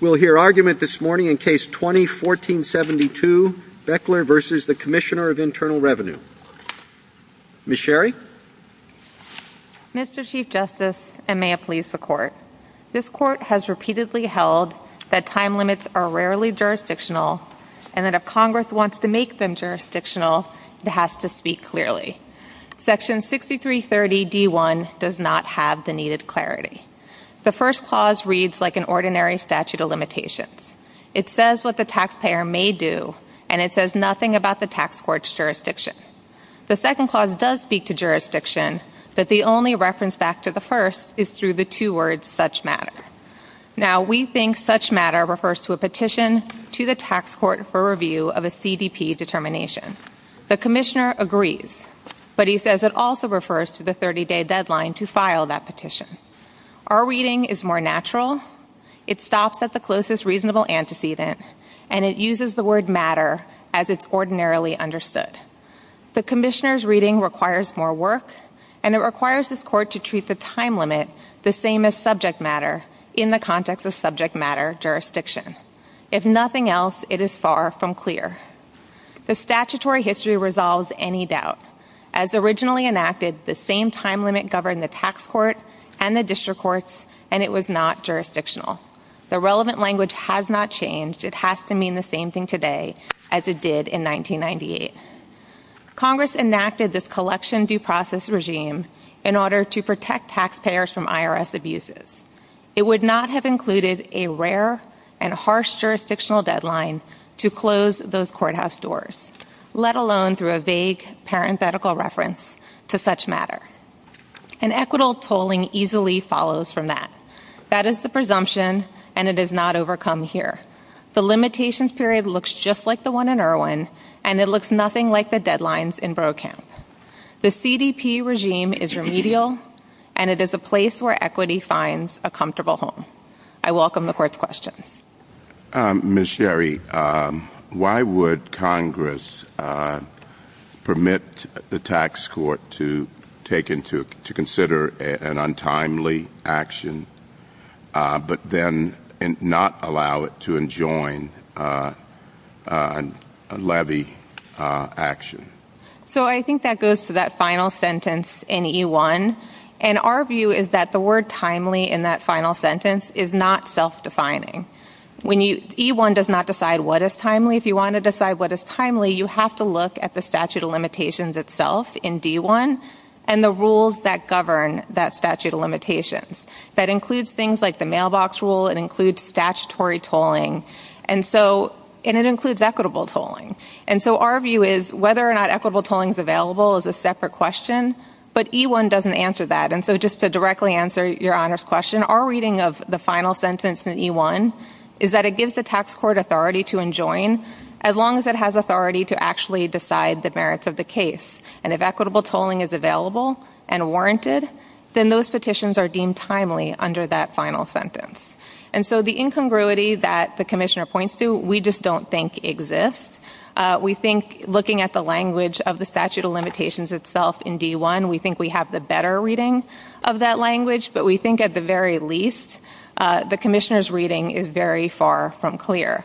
We'll hear argument this morning in Case 20-1472, Boechler v. the Commissioner of Internal Revenue. Ms. Sherry? Mr. Chief Justice, and may it please the Court, this Court has repeatedly held that time limits are rarely jurisdictional and that if Congress wants to make them jurisdictional, it has to speak clearly. Section 6330d1 does not have the needed clarity. The first clause reads like an ordinary statute of limitations. It says what the taxpayer may do, and it says nothing about the tax court's jurisdiction. The second clause does speak to jurisdiction, but the only reference back to the first is through the two words such matter. Now, we think such matter refers to a petition to the tax court for review of a CDP determination. The Commissioner agrees, but he says it also refers to the 30-day deadline to file that petition. Our reading is more natural. It stops at the closest reasonable antecedent, and it uses the word matter as it's ordinarily understood. The Commissioner's reading requires more work, and it requires this Court to treat the time limit the same as subject matter in the context of subject matter jurisdiction. If nothing else, it is far from clear. The statutory history resolves any doubt. As originally enacted, the same time limit governed the tax court and the district courts, and it was not jurisdictional. The relevant language has not changed. It has to mean the same thing today as it did in 1998. Congress enacted this collection due process regime in order to protect taxpayers from IRS abuses. It would not have included a rare and harsh jurisdictional deadline to close those courthouse doors, let alone through a vague parenthetical reference to such matter. And equitable tolling easily follows from that. That is the presumption, and it is not overcome here. The limitations period looks just like the one in Irwin, and it looks nothing like the deadlines in Brokamp. The CDP regime is remedial, and it is a place where equity finds a comfortable home. I welcome the Court's questions. Ms. Sherry, why would Congress permit the tax court to consider an untimely action but then not allow it to enjoin a levy action? So I think that goes to that final sentence in E1, and our view is that the word timely in that final sentence is not self-defining. E1 does not decide what is timely. If you want to decide what is timely, you have to look at the statute of limitations itself in D1 and the rules that govern that statute of limitations. That includes things like the mailbox rule. It includes statutory tolling, and it includes equitable tolling. And so our view is whether or not equitable tolling is available is a separate question, but E1 doesn't answer that. And so just to directly answer Your Honor's question, our reading of the final sentence in E1 is that it gives the tax court authority to enjoin as long as it has authority to actually decide the merits of the case. And if equitable tolling is available and warranted, then those petitions are deemed timely under that final sentence. And so the incongruity that the Commissioner points to we just don't think exists. We think looking at the language of the statute of limitations itself in D1, we think we have the better reading of that language, but we think at the very least the Commissioner's reading is very far from clear.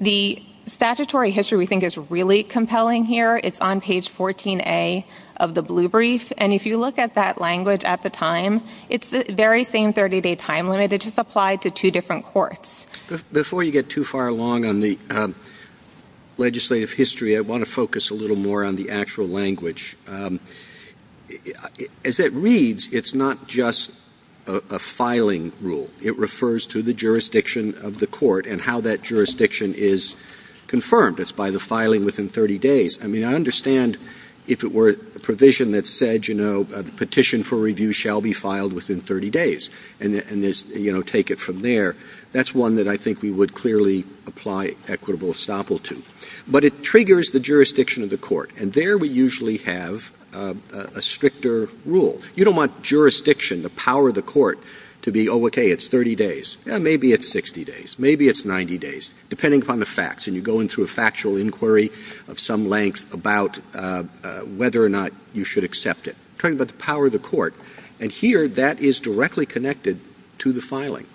The statutory history we think is really compelling here. It's on page 14A of the blue brief, and if you look at that language at the time, it's the very same 30-day time limit. It just applied to two different courts. Before you get too far along on the legislative history, I want to focus a little more on the actual language. As it reads, it's not just a filing rule. It refers to the jurisdiction of the court and how that jurisdiction is confirmed. It's by the filing within 30 days. I mean, I understand if it were a provision that said, you know, the petition for review shall be filed within 30 days and, you know, take it from there. That's one that I think we would clearly apply equitable estoppel to. But it triggers the jurisdiction of the court, and there we usually have a stricter rule. You don't want jurisdiction, the power of the court, to be, oh, okay, it's 30 days. Yeah, maybe it's 60 days. Maybe it's 90 days, depending upon the facts, and you're going through a factual inquiry of some length about whether or not you should accept it. We're talking about the power of the court, and here that is directly connected to the filing.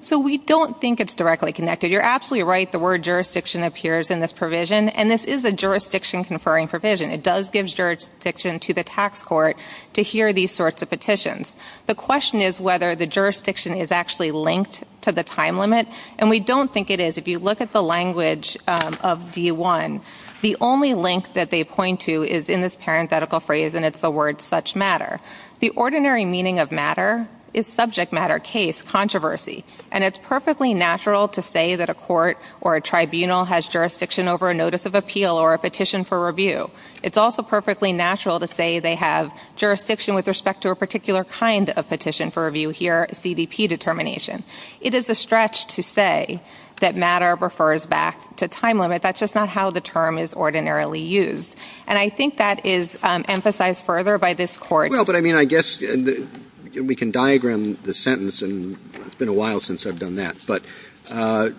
So we don't think it's directly connected. You're absolutely right. The word jurisdiction appears in this provision, and this is a jurisdiction-conferring provision. It does give jurisdiction to the tax court to hear these sorts of petitions. The question is whether the jurisdiction is actually linked to the time limit, and we don't think it is. If you look at the language of D-1, the only link that they point to is in this parenthetical phrase, and it's the word such matter. The ordinary meaning of matter is subject matter, case, controversy, and it's perfectly natural to say that a court or a tribunal has jurisdiction over a notice of appeal or a petition for review. It's also perfectly natural to say they have jurisdiction with respect to a particular kind of petition for review here, a CDP determination. It is a stretch to say that matter refers back to time limit. That's just not how the term is ordinarily used, and I think that is emphasized further by this court. Well, but, I mean, I guess we can diagram the sentence, and it's been a while since I've done that, but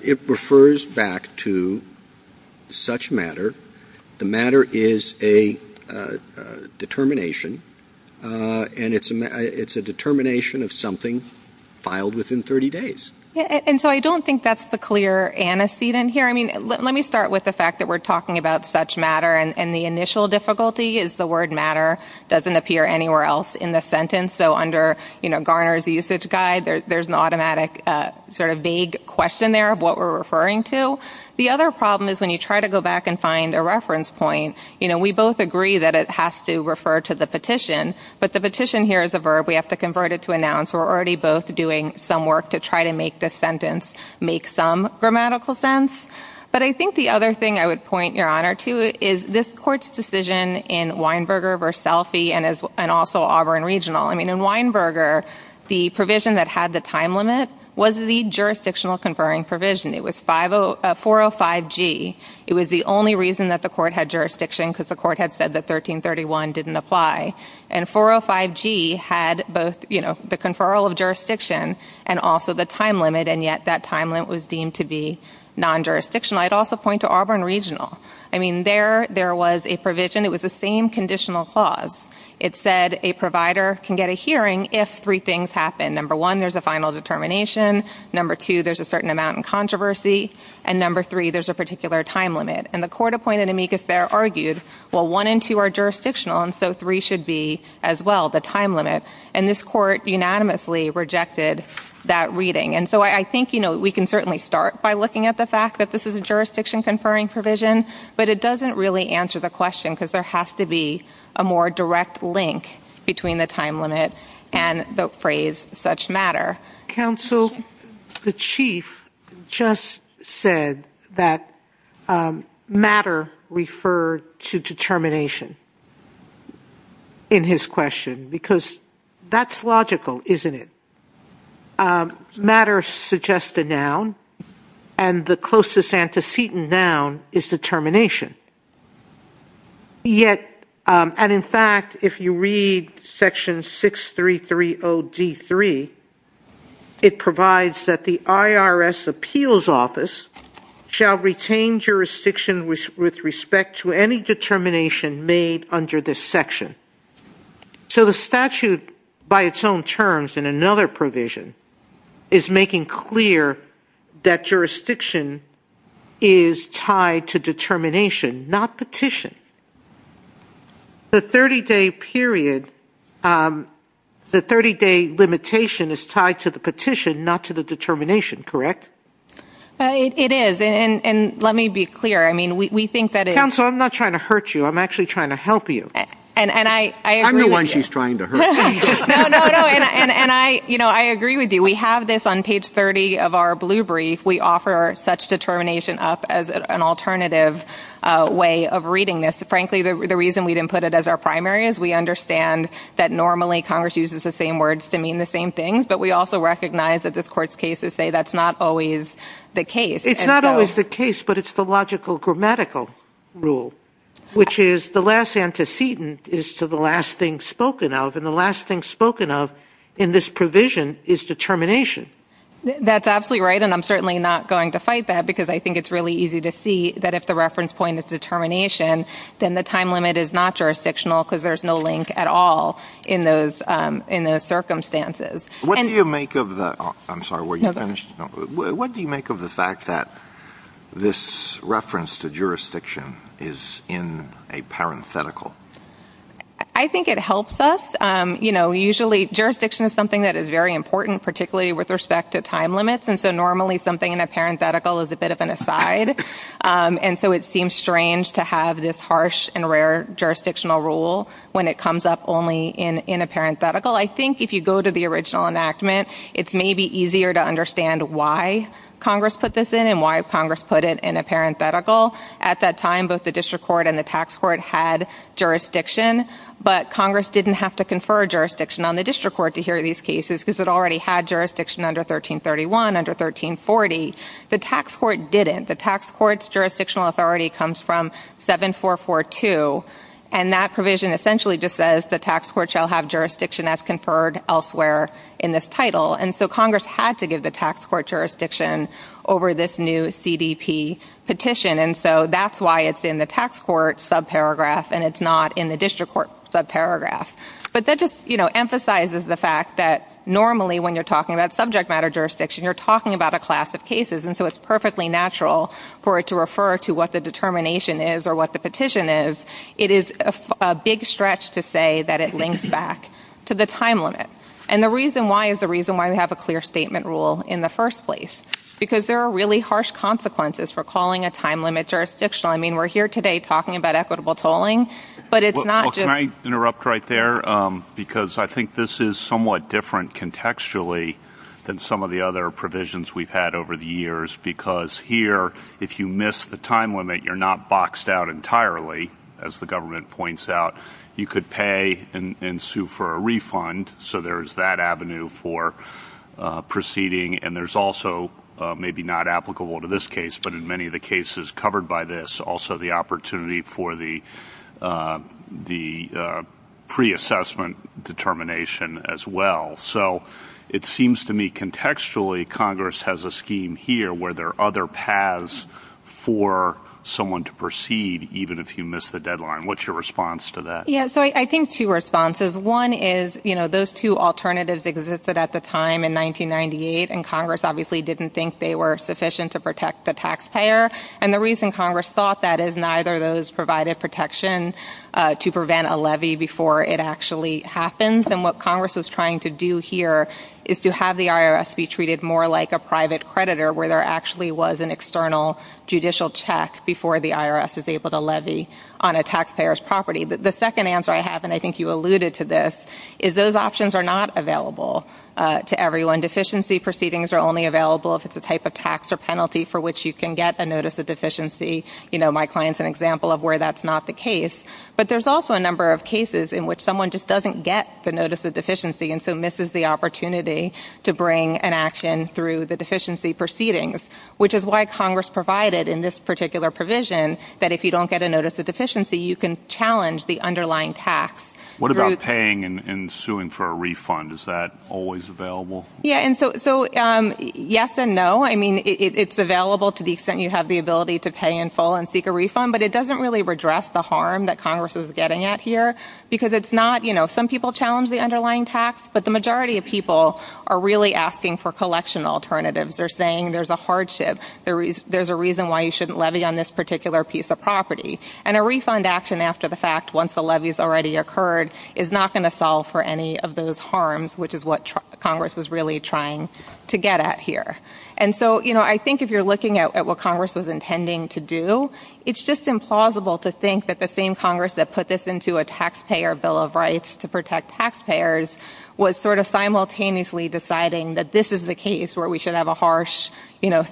it refers back to such matter. The matter is a determination, and it's a determination of something filed within 30 days. And so I don't think that's the clear antecedent here. I mean, let me start with the fact that we're talking about such matter, and the initial difficulty is the word matter doesn't appear anywhere else in the sentence. So under, you know, Garner's usage guide, there's an automatic sort of vague question there of what we're referring to. The other problem is when you try to go back and find a reference point, you know, we both agree that it has to refer to the petition, but the petition here is a verb. We have to convert it to a noun, so we're already both doing some work to try to make this sentence make some grammatical sense. But I think the other thing I would point your honor to is this court's decision in Weinberger v. Selfie and also Auburn Regional. I mean, in Weinberger, the provision that had the time limit was the jurisdictional conferring provision. It was 405G. It was the only reason that the court had jurisdiction, because the court had said that 1331 didn't apply. And 405G had both, you know, the conferral of jurisdiction and also the time limit, and yet that time limit was deemed to be non-jurisdictional. I'd also point to Auburn Regional. I mean, there was a provision. It was the same conditional clause. It said a provider can get a hearing if three things happen. Number one, there's a final determination. Number two, there's a certain amount in controversy. And number three, there's a particular time limit. And the court appointed amicus there argued, well, one and two are jurisdictional, and so three should be as well, the time limit. And this court unanimously rejected that reading. And so I think, you know, we can certainly start by looking at the fact that this is a jurisdiction conferring provision, but it doesn't really answer the question because there has to be a more direct link between the time limit and the phrase such matter. Counsel, the chief just said that matter referred to determination in his question because that's logical, isn't it? Matter suggests a noun, and the closest antecedent noun is determination. Yet, and in fact, if you read Section 6330D3, it provides that the IRS Appeals Office shall retain jurisdiction with respect to any determination made under this section. So the statute by its own terms in another provision is making clear that jurisdiction is tied to determination, not petition. The 30-day period, the 30-day limitation is tied to the petition, not to the determination, correct? It is. And let me be clear. I mean, we think that it is. Counsel, I'm not trying to hurt you. I'm actually trying to help you. And I agree with you. I'm the one she's trying to hurt. No, no, no. And I, you know, I agree with you. We have this on page 30 of our blue brief. We offer such determination up as an alternative way of reading this. Frankly, the reason we didn't put it as our primary is we understand that normally Congress uses the same words to mean the same things, but we also recognize that this Court's cases say that's not always the case. It's not always the case, but it's the logical grammatical rule, which is the last antecedent is to the last thing spoken of, and the last thing spoken of in this provision is determination. That's absolutely right, and I'm certainly not going to fight that, because I think it's really easy to see that if the reference point is determination, then the time limit is not jurisdictional because there's no link at all in those circumstances. What do you make of the ‑‑ I'm sorry, were you finished? No, go ahead. What do you make of the fact that this reference to jurisdiction is in a parenthetical? I think it helps us. You know, usually jurisdiction is something that is very important, particularly with respect to time limits, and so normally something in a parenthetical is a bit of an aside, and so it seems strange to have this harsh and rare jurisdictional rule when it comes up only in a parenthetical. I think if you go to the original enactment, it's maybe easier to understand why Congress put this in and why Congress put it in a parenthetical. At that time, both the district court and the tax court had jurisdiction, but Congress didn't have to confer jurisdiction on the district court to hear these cases because it already had jurisdiction under 1331, under 1340. The tax court didn't. The tax court's jurisdictional authority comes from 7442, and that provision essentially just says the tax court shall have jurisdiction as conferred elsewhere in this title, and so Congress had to give the tax court jurisdiction over this new CDP petition, and so that's why it's in the tax court subparagraph and it's not in the district court subparagraph. But that just, you know, emphasizes the fact that normally when you're talking about subject matter jurisdiction, you're talking about a class of cases, and so it's perfectly natural for it to refer to what the determination is or what the petition is. It is a big stretch to say that it links back to the time limit, and the reason why is the reason why we have a clear statement rule in the first place, because there are really harsh consequences for calling a time limit jurisdictional. I mean, we're here today talking about equitable tolling, but it's not just... Well, can I interrupt right there? Because I think this is somewhat different contextually than some of the other provisions we've had over the years, because here if you miss the time limit, you're not boxed out entirely, as the government points out. You could pay and sue for a refund, so there's that avenue for proceeding, and there's also maybe not applicable to this case, but in many of the cases covered by this, there's also the opportunity for the pre-assessment determination as well. So it seems to me contextually Congress has a scheme here where there are other paths for someone to proceed, even if you miss the deadline. What's your response to that? Yeah, so I think two responses. One is those two alternatives existed at the time in 1998, and Congress obviously didn't think they were sufficient to protect the taxpayer, and the reason Congress thought that is neither of those provided protection to prevent a levy before it actually happens, and what Congress was trying to do here is to have the IRS be treated more like a private creditor, where there actually was an external judicial check before the IRS is able to levy on a taxpayer's property. The second answer I have, and I think you alluded to this, is those options are not available to everyone. Deficiency proceedings are only available if it's a type of tax or penalty for which you can get a notice of deficiency. My client's an example of where that's not the case, but there's also a number of cases in which someone just doesn't get the notice of deficiency and so misses the opportunity to bring an action through the deficiency proceedings, which is why Congress provided in this particular provision that if you don't get a notice of deficiency, you can challenge the underlying tax. What about paying and suing for a refund? Is that always available? Yeah, and so yes and no. I mean, it's available to the extent you have the ability to pay in full and seek a refund, but it doesn't really redress the harm that Congress was getting at here because it's not, you know, some people challenge the underlying tax, but the majority of people are really asking for collection alternatives. They're saying there's a hardship. There's a reason why you shouldn't levy on this particular piece of property, and a refund action after the fact, once the levy's already occurred, is not going to solve for any of those harms, which is what Congress was really trying to get at here. And so, you know, I think if you're looking at what Congress was intending to do, it's just implausible to think that the same Congress that put this into a taxpayer bill of rights to protect taxpayers was sort of simultaneously deciding that this is the case where we should have a harsh, you know,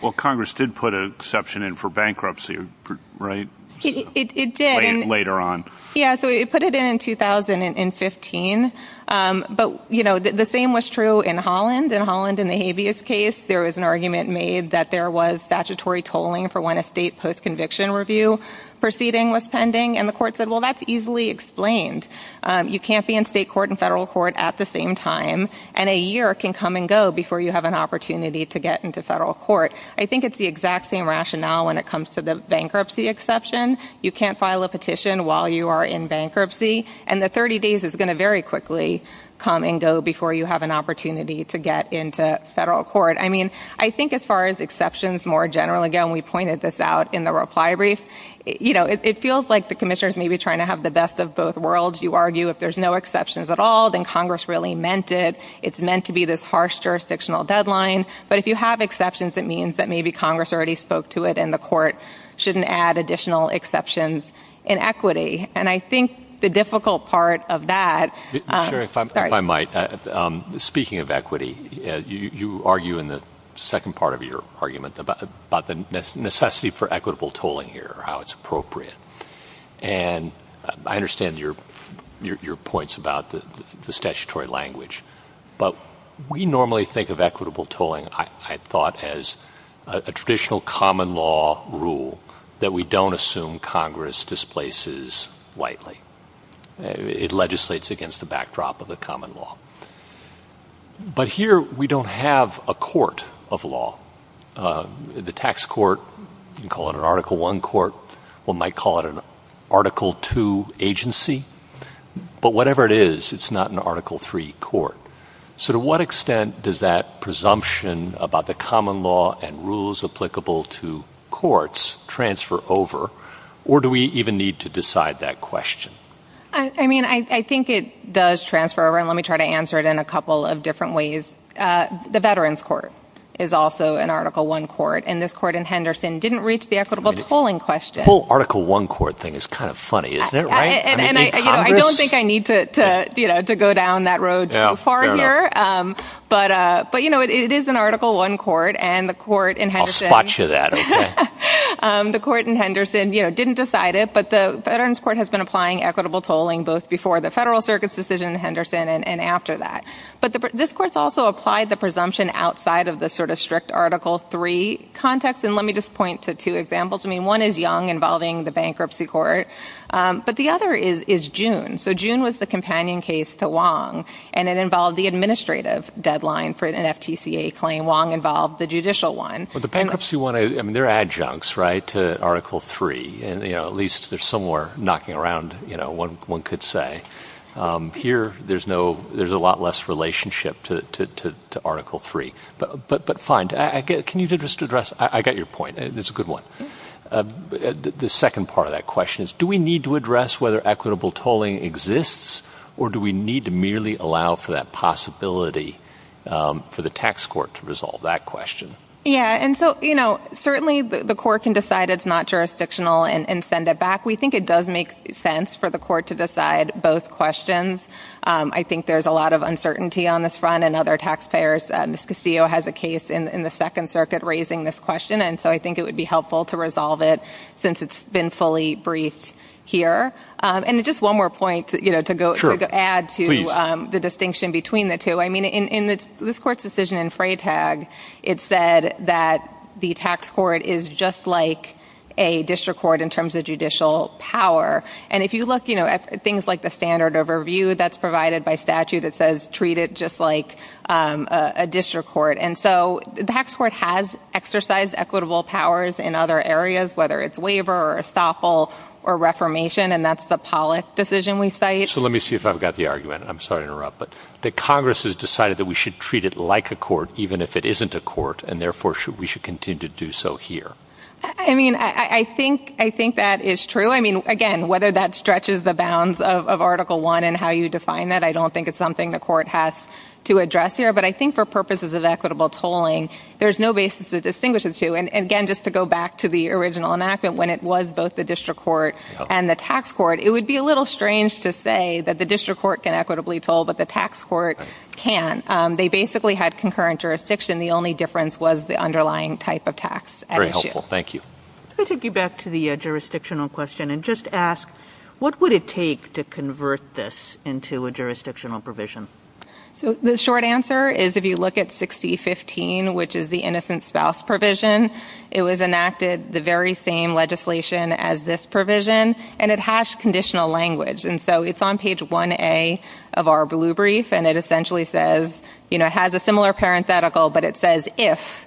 Well, Congress did put an exception in for bankruptcy, right? It did. Later on. Yeah, so it put it in in 2015. But, you know, the same was true in Holland. In Holland, in the habeas case, there was an argument made that there was statutory tolling for when a state post-conviction review proceeding was pending, and the court said, well, that's easily explained. You can't be in state court and federal court at the same time, and a year can come and go before you have an opportunity to get into federal court. I think it's the exact same rationale when it comes to the bankruptcy exception. You can't file a petition while you are in bankruptcy, and the 30 days is going to very quickly come and go before you have an opportunity to get into federal court. I mean, I think as far as exceptions more generally, again, we pointed this out in the reply brief, you know, it feels like the commissioners may be trying to have the best of both worlds. You argue if there's no exceptions at all, then Congress really meant it. It's meant to be this harsh jurisdictional deadline. But if you have exceptions, it means that maybe Congress already spoke to it, and the court shouldn't add additional exceptions in equity. And I think the difficult part of that. Sherry, if I might, speaking of equity, you argue in the second part of your argument about the necessity for equitable tolling here, how it's appropriate. And I understand your points about the statutory language. But we normally think of equitable tolling, I thought, as a traditional common law rule that we don't assume Congress displaces lightly. It legislates against the backdrop of the common law. But here we don't have a court of law. The tax court, you can call it an Article I court. One might call it an Article II agency. But whatever it is, it's not an Article III court. So to what extent does that presumption about the common law and rules applicable to courts transfer over? Or do we even need to decide that question? I mean, I think it does transfer over, and let me try to answer it in a couple of different ways. The Veterans Court is also an Article I court. And this court in Henderson didn't reach the equitable tolling question. The whole Article I court thing is kind of funny, isn't it, right? And I don't think I need to go down that road too far here. But, you know, it is an Article I court, and the court in Henderson I'll spot you that. The court in Henderson didn't decide it. But the Veterans Court has been applying equitable tolling both before the Federal Circuit's decision in Henderson and after that. But this court's also applied the presumption outside of the sort of strict Article III context. And let me just point to two examples. I mean, one is Young involving the bankruptcy court. But the other is June. So June was the companion case to Wong, and it involved the administrative deadline for an FTCA claim. Wong involved the judicial one. Well, the bankruptcy one, I mean, they're adjuncts, right, to Article III. And, you know, at least they're somewhere knocking around, you know, one could say. Here there's a lot less relationship to Article III. But fine. Can you just address? I got your point. It's a good one. The second part of that question is do we need to address whether equitable tolling exists, or do we need to merely allow for that possibility for the tax court to resolve that question? Yeah, and so, you know, certainly the court can decide it's not jurisdictional and send it back. We think it does make sense for the court to decide both questions. I think there's a lot of uncertainty on this front, and other taxpayers. Ms. Castillo has a case in the Second Circuit raising this question, and so I think it would be helpful to resolve it since it's been fully briefed here. And just one more point, you know, to add to the distinction between the two. I mean, in this court's decision in Freytag, it said that the tax court is just like a district court in terms of judicial power. And if you look, you know, at things like the standard overview that's provided by statute, it says treat it just like a district court. And so the tax court has exercised equitable powers in other areas, whether it's waiver or estoppel or reformation, and that's the Pollack decision we cite. So let me see if I've got the argument. I'm sorry to interrupt, but the Congress has decided that we should treat it like a court, even if it isn't a court, and therefore we should continue to do so here. I mean, I think that is true. I mean, again, whether that stretches the bounds of Article I and how you define that, I don't think it's something the court has to address here. But I think for purposes of equitable tolling, there's no basis to distinguish the two. And, again, just to go back to the original enactment when it was both the district court and the tax court, it would be a little strange to say that the district court can equitably toll, but the tax court can. They basically had concurrent jurisdiction. The only difference was the underlying type of tax at issue. Very helpful. Thank you. Let me take you back to the jurisdictional question and just ask, what would it take to convert this into a jurisdictional provision? So the short answer is if you look at 6015, which is the innocent spouse provision, it was enacted the very same legislation as this provision, and it has conditional language. And so it's on page 1A of our blue brief, and it essentially says, you know, it has a similar parenthetical, but it says if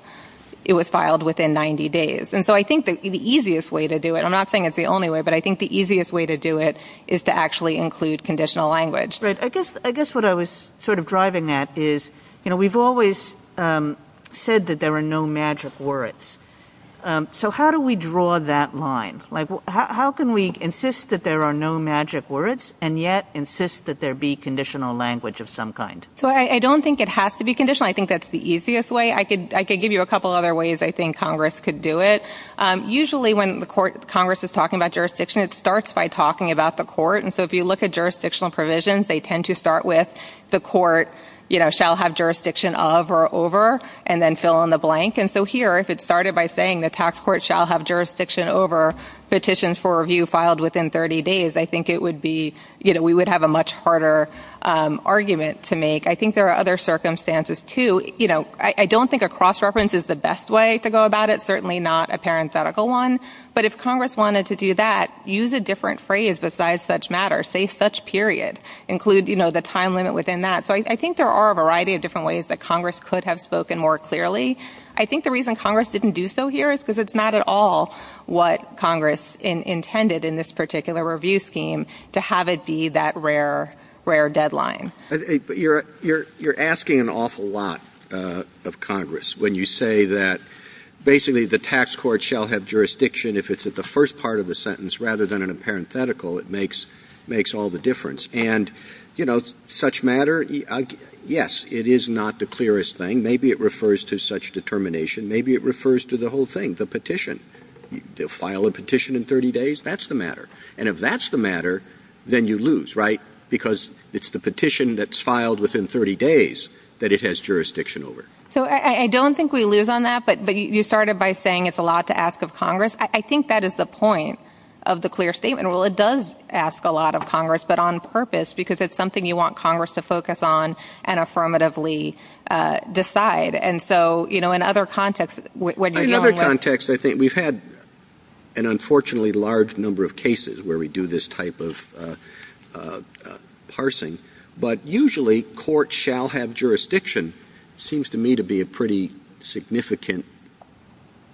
it was filed within 90 days. And so I think the easiest way to do it, I'm not saying it's the only way, but I think the easiest way to do it is to actually include conditional language. Right. I guess what I was sort of driving at is, you know, we've always said that there are no magic words. So how do we draw that line? Like, how can we insist that there are no magic words and yet insist that there be conditional language of some kind? So I don't think it has to be conditional. I think that's the easiest way. I could give you a couple other ways I think Congress could do it. Usually when Congress is talking about jurisdiction, it starts by talking about the court. And so if you look at jurisdictional provisions, they tend to start with the court, you know, shall have jurisdiction of or over and then fill in the blank. And so here, if it started by saying the tax court shall have jurisdiction over petitions for review filed within 30 days, I think it would be, you know, we would have a much harder argument to make. I think there are other circumstances, too. You know, I don't think a cross-reference is the best way to go about it, certainly not a parenthetical one. But if Congress wanted to do that, use a different phrase besides such matter. Say such period. Include, you know, the time limit within that. So I think there are a variety of different ways that Congress could have spoken more clearly. I think the reason Congress didn't do so here is because it's not at all what Congress intended in this particular review scheme to have it be that rare deadline. But you're asking an awful lot of Congress when you say that basically the tax court shall have jurisdiction if it's at the first part of the sentence rather than in a parenthetical. It makes all the difference. And, you know, such matter, yes, it is not the clearest thing. Maybe it refers to such determination. Maybe it refers to the whole thing, the petition. They'll file a petition in 30 days. That's the matter. And if that's the matter, then you lose, right? Because it's the petition that's filed within 30 days that it has jurisdiction over. So I don't think we lose on that. But you started by saying it's a lot to ask of Congress. I think that is the point of the clear statement. Well, it does ask a lot of Congress, but on purpose because it's something you want Congress to focus on and affirmatively decide. And so, you know, in other contexts when you're dealing with – but usually court shall have jurisdiction seems to me to be a pretty significant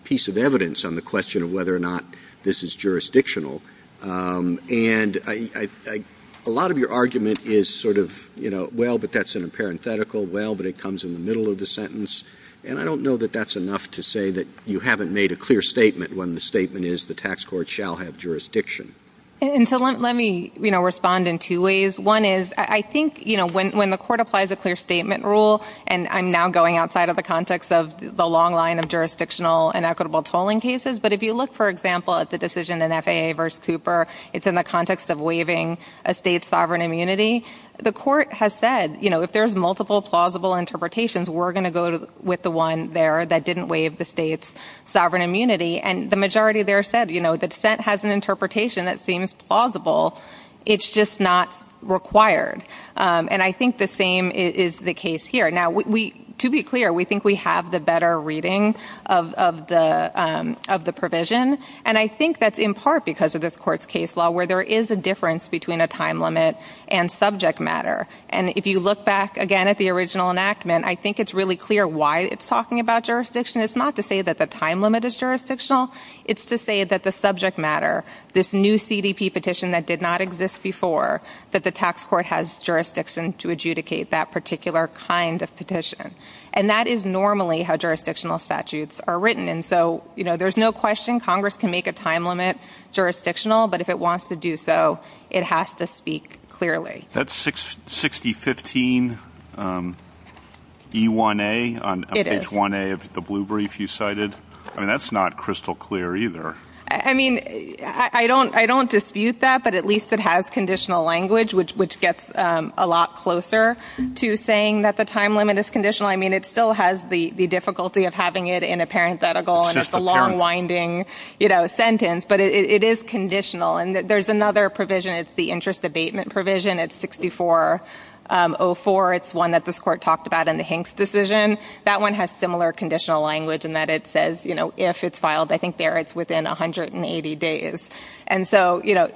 piece of evidence on the question of whether or not this is jurisdictional. And a lot of your argument is sort of, you know, well, but that's in a parenthetical. Well, but it comes in the middle of the sentence. And I don't know that that's enough to say that you haven't made a clear statement when the statement is the tax court shall have jurisdiction. And so let me, you know, respond in two ways. One is I think, you know, when the court applies a clear statement rule, and I'm now going outside of the context of the long line of jurisdictional and equitable tolling cases. But if you look, for example, at the decision in FAA v. Cooper, it's in the context of waiving a state's sovereign immunity. The court has said, you know, if there's multiple plausible interpretations, we're going to go with the one there that didn't waive the state's sovereign immunity. And the majority there said, you know, the dissent has an interpretation that seems plausible. It's just not required. And I think the same is the case here. Now, to be clear, we think we have the better reading of the provision. And I think that's in part because of this court's case law where there is a difference between a time limit and subject matter. And if you look back again at the original enactment, I think it's really clear why it's talking about jurisdiction. It's not to say that the time limit is jurisdictional. It's to say that the subject matter, this new CDP petition that did not exist before, that the tax court has jurisdiction to adjudicate that particular kind of petition. And that is normally how jurisdictional statutes are written. And so, you know, there's no question Congress can make a time limit jurisdictional. But if it wants to do so, it has to speak clearly. That's 6015E1A on page 1A of the blue brief you cited. I mean, that's not crystal clear either. I mean, I don't dispute that, but at least it has conditional language, which gets a lot closer to saying that the time limit is conditional. I mean, it still has the difficulty of having it in a parenthetical and it's a long, winding, you know, sentence. But it is conditional. And there's another provision. It's the interest abatement provision. It's 6404. It's one that this court talked about in the Hanks decision. That one has similar conditional language in that it says, you know, if it's filed, I think there it's within 180 days. And so, you know,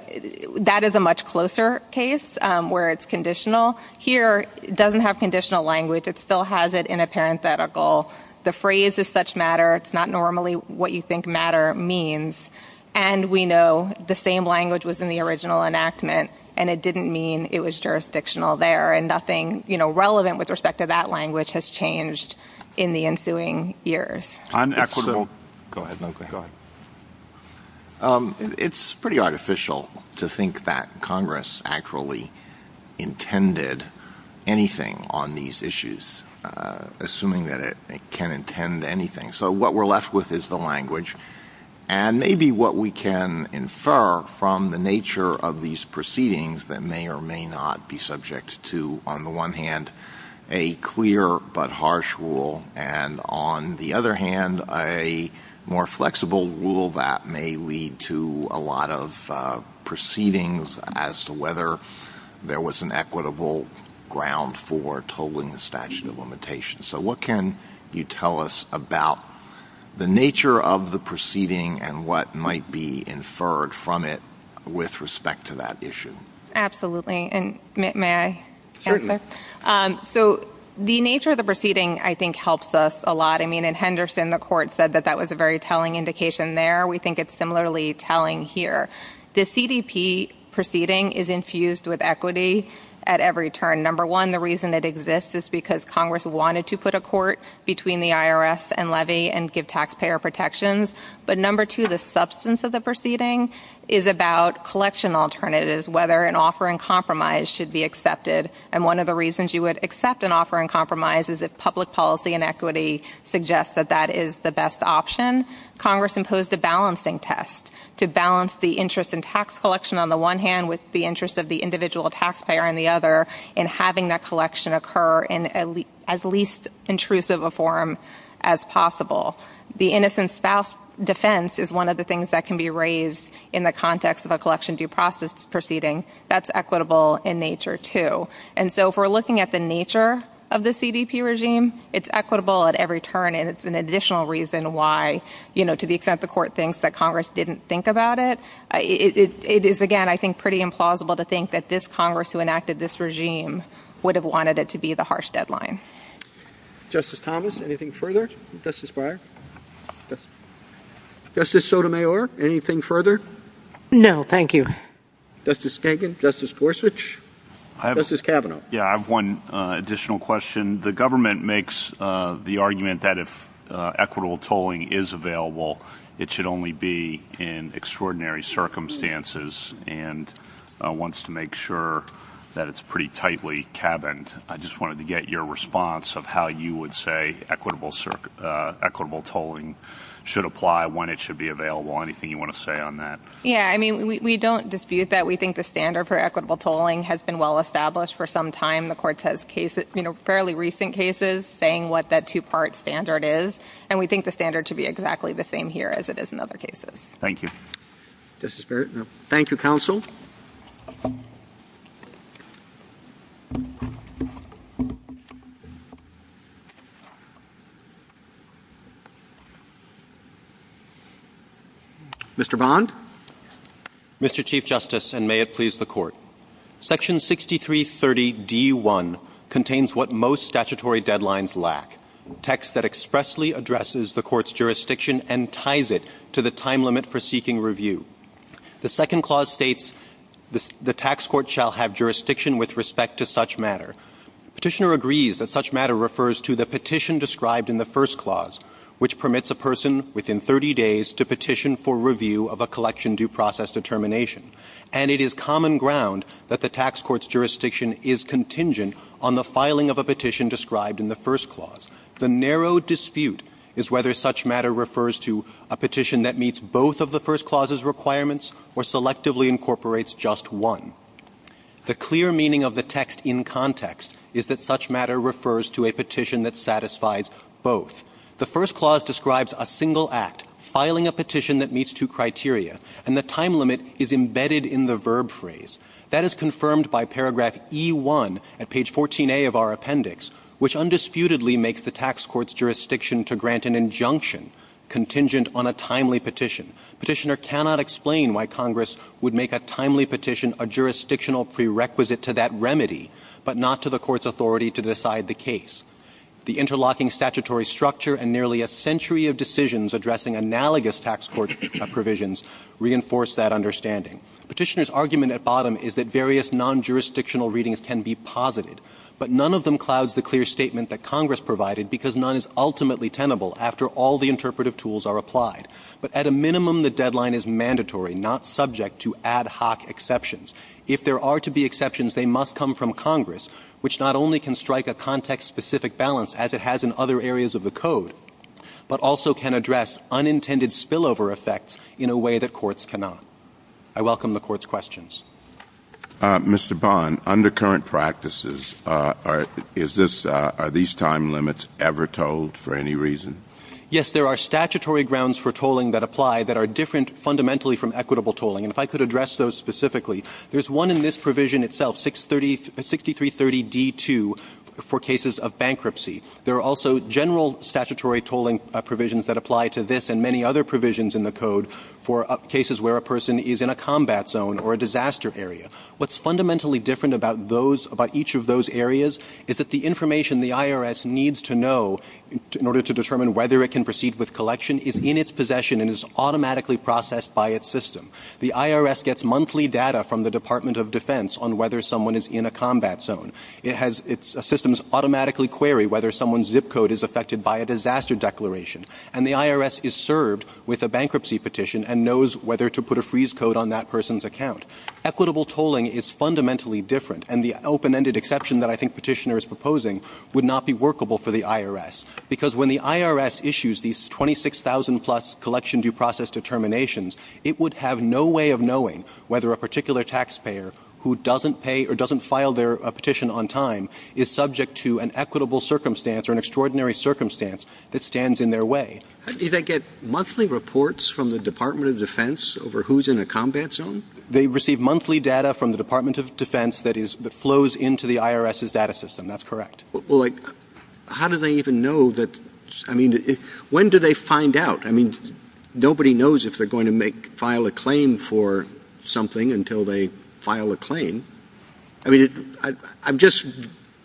that is a much closer case where it's conditional. Here it doesn't have conditional language. It still has it in a parenthetical. The phrase is such matter. It's not normally what you think matter means. And we know the same language was in the original enactment. And it didn't mean it was jurisdictional there. And nothing, you know, relevant with respect to that language has changed in the ensuing years. Go ahead. Go ahead. It's pretty artificial to think that Congress actually intended anything on these issues, assuming that it can intend anything. So what we're left with is the language. And maybe what we can infer from the nature of these proceedings that may or may not be subject to, on the one hand, a clear but harsh rule, and on the other hand, a more flexible rule that may lead to a lot of proceedings as to whether there was an equitable ground for totaling the statute of limitations. So what can you tell us about the nature of the proceeding and what might be inferred from it with respect to that issue? Absolutely. And may I answer? Certainly. So the nature of the proceeding, I think, helps us a lot. I mean, in Henderson, the court said that that was a very telling indication there. We think it's similarly telling here. The CDP proceeding is infused with equity at every turn. Number one, the reason it exists is because Congress wanted to put a court between the IRS and levy and give taxpayer protections. But number two, the substance of the proceeding is about collection alternatives, whether an offer in compromise should be accepted. And one of the reasons you would accept an offer in compromise is if public policy and equity suggest that that is the best option. Congress imposed a balancing test to balance the interest in tax collection on the one hand with the interest of the individual taxpayer on the other in having that collection occur in as least intrusive a form as possible. The innocent spouse defense is one of the things that can be raised in the context of a collection due process proceeding. That's equitable in nature, too. And so if we're looking at the nature of the CDP regime, it's equitable at every turn, and it's an additional reason why, you know, to the extent the court thinks that Congress didn't think about it, it is, again, I think, pretty implausible to think that this Congress who enacted this regime would have wanted it to be the harsh deadline. Justice Thomas, anything further? Justice Breyer? Justice Sotomayor, anything further? No, thank you. Justice Kagan? Justice Gorsuch? Justice Kavanaugh? Yeah, I have one additional question. The government makes the argument that if equitable tolling is available, it should only be in extraordinary circumstances and wants to make sure that it's pretty tightly cabined. I just wanted to get your response of how you would say equitable tolling should apply, when it should be available. Anything you want to say on that? Yeah, I mean, we don't dispute that. We think the standard for equitable tolling has been well-established for some time. The Court has cases, you know, fairly recent cases saying what that two-part standard is, and we think the standard should be exactly the same here as it is in other cases. Thank you. Justice Barrett? Thank you, Counsel. Mr. Bond? Mr. Chief Justice, and may it please the Court. Section 6330d1 contains what most statutory deadlines lack, text that expressly addresses the Court's jurisdiction and ties it to the time limit for seeking review. The second clause states the tax court shall have jurisdiction with respect to such matter. Petitioner agrees that such matter refers to the petition described in the first clause, which permits a person within 30 days to petition for review of a collection due process determination, and it is common ground that the tax court's jurisdiction is contingent on the filing of a petition described in the first clause. The narrow dispute is whether such matter refers to a petition that meets both of the first clause's requirements or selectively incorporates just one. The clear meaning of the text in context is that such matter refers to a petition that satisfies both. The first clause describes a single act, filing a petition that meets two criteria, and the time limit is embedded in the verb phrase. That is confirmed by paragraph E1 at page 14A of our appendix, which undisputedly makes the tax court's jurisdiction to grant an injunction contingent on a timely petition. Petitioner cannot explain why Congress would make a timely petition a jurisdictional prerequisite to that remedy, but not to the court's authority to decide the case. The interlocking statutory structure and nearly a century of decisions addressing analogous tax court provisions reinforce that understanding. Petitioner's argument at bottom is that various non-jurisdictional readings can be posited, but none of them clouds the clear statement that Congress provided, because none is ultimately tenable after all the interpretive tools are applied. But at a minimum, the deadline is mandatory, not subject to ad hoc exceptions. If there are to be exceptions, they must come from Congress, which not only can strike a context-specific balance, as it has in other areas of the Code, but also can address unintended spillover effects in a way that courts cannot. I welcome the Court's questions. Mr. Bond, under current practices, are these time limits ever tolled for any reason? Yes. There are statutory grounds for tolling that apply that are different fundamentally from equitable tolling. And if I could address those specifically, there's one in this provision itself, 6330d-2, for cases of bankruptcy. There are also general statutory tolling provisions that apply to this and many other provisions in the Code for cases where a person is in a combat zone or a disaster area. What's fundamentally different about each of those areas is that the information the IRS needs to know in order to determine whether it can proceed with collection is in its possession and is automatically processed by its system. The IRS gets monthly data from the Department of Defense on whether someone is in a combat zone. And the IRS is served with a bankruptcy petition and knows whether to put a freeze code on that person's account. Equitable tolling is fundamentally different. And the open-ended exception that I think Petitioner is proposing would not be workable for the IRS, because when the IRS issues these 26,000-plus collection due process determinations, it would have no way of knowing whether a particular taxpayer who doesn't pay or doesn't file their petition on time is subject to an equitable circumstance or an extraordinary circumstance that stands in their way. Do they get monthly reports from the Department of Defense over who's in a combat zone? They receive monthly data from the Department of Defense that flows into the IRS's data system. That's correct. Well, like, how do they even know that, I mean, when do they find out? I mean, nobody knows if they're going to file a claim for something until they file a claim. I mean, I'm just,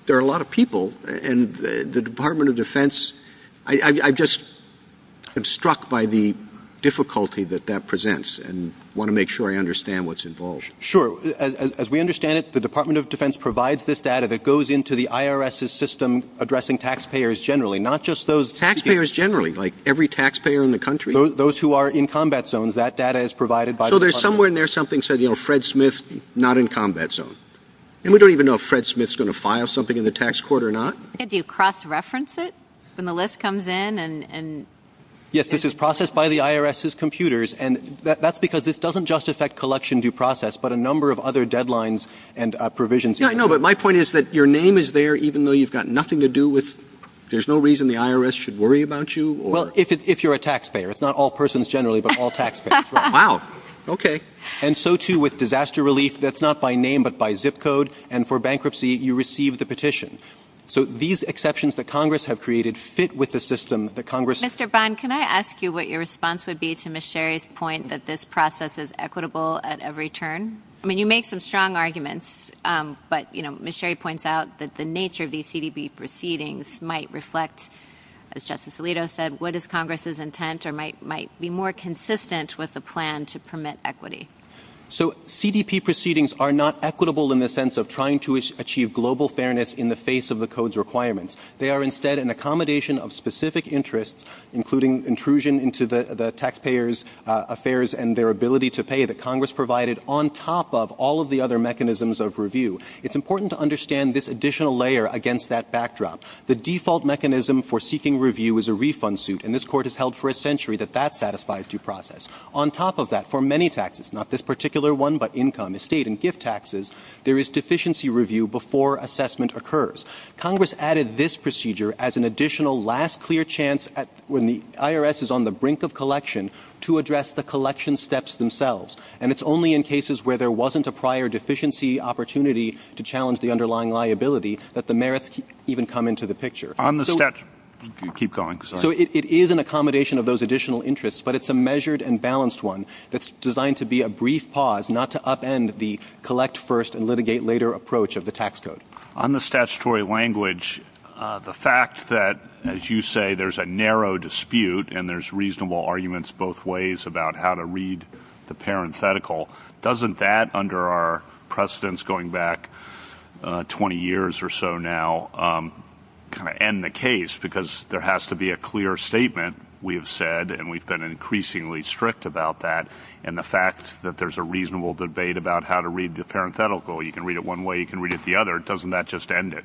there are a lot of people, and the Department of Defense, I've just, I'm struck by the difficulty that that presents and want to make sure I understand what's involved. Sure. As we understand it, the Department of Defense provides this data that goes into the IRS's system addressing taxpayers generally, not just those people. Taxpayers generally, like every taxpayer in the country? So there's somewhere in there something that says, you know, Fred Smith, not in combat zone. And we don't even know if Fred Smith's going to file something in the tax court or not. Do you cross-reference it when the list comes in? Yes, this is processed by the IRS's computers, and that's because this doesn't just affect collection due process, but a number of other deadlines and provisions. Yeah, I know, but my point is that your name is there even though you've got nothing to do with, there's no reason the IRS should worry about you? Well, if you're a taxpayer. It's not all persons generally, but all taxpayers. Wow. Okay. And so, too, with disaster relief, that's not by name but by zip code. And for bankruptcy, you receive the petition. So these exceptions that Congress have created fit with the system that Congress... Mr. Bond, can I ask you what your response would be to Ms. Sherry's point that this process is equitable at every turn? I mean, you make some strong arguments, but Ms. Sherry points out that the nature of these CDB proceedings might reflect, as Justice Alito said, what is more consistent with the plan to permit equity. So CDB proceedings are not equitable in the sense of trying to achieve global fairness in the face of the Code's requirements. They are instead an accommodation of specific interests, including intrusion into the taxpayer's affairs and their ability to pay that Congress provided, on top of all of the other mechanisms of review. It's important to understand this additional layer against that backdrop. The default mechanism for seeking review is a refund suit, and this Court has On top of that, for many taxes, not this particular one but income, estate, and gift taxes, there is deficiency review before assessment occurs. Congress added this procedure as an additional last clear chance when the IRS is on the brink of collection to address the collection steps themselves. And it's only in cases where there wasn't a prior deficiency opportunity to challenge the underlying liability that the merits even come into the picture. On the steps. Keep going. So it is an accommodation of those additional interests, but it's a measured and balanced one that's designed to be a brief pause, not to upend the collect first and litigate later approach of the tax code. On the statutory language, the fact that, as you say, there's a narrow dispute and there's reasonable arguments both ways about how to read the parenthetical, doesn't that, under our precedents going back 20 years or so now, kind of end the case because there has to be a clear statement, we have said, and we've been increasingly strict about that, and the fact that there's a reasonable debate about how to read the parenthetical, you can read it one way, you can read it the other, doesn't that just end it?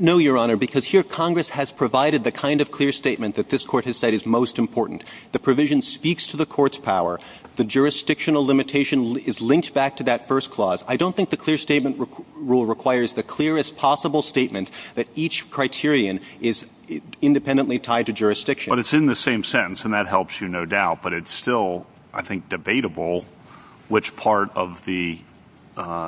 No, Your Honor, because here Congress has provided the kind of clear statement that this Court has said is most important. The provision speaks to the Court's power. The jurisdictional limitation is linked back to that first clause. I don't think the clear statement rule requires the clearest possible statement that each criterion is independently tied to jurisdiction. But it's in the same sentence, and that helps you, no doubt, but it's still, I think, debatable which part of the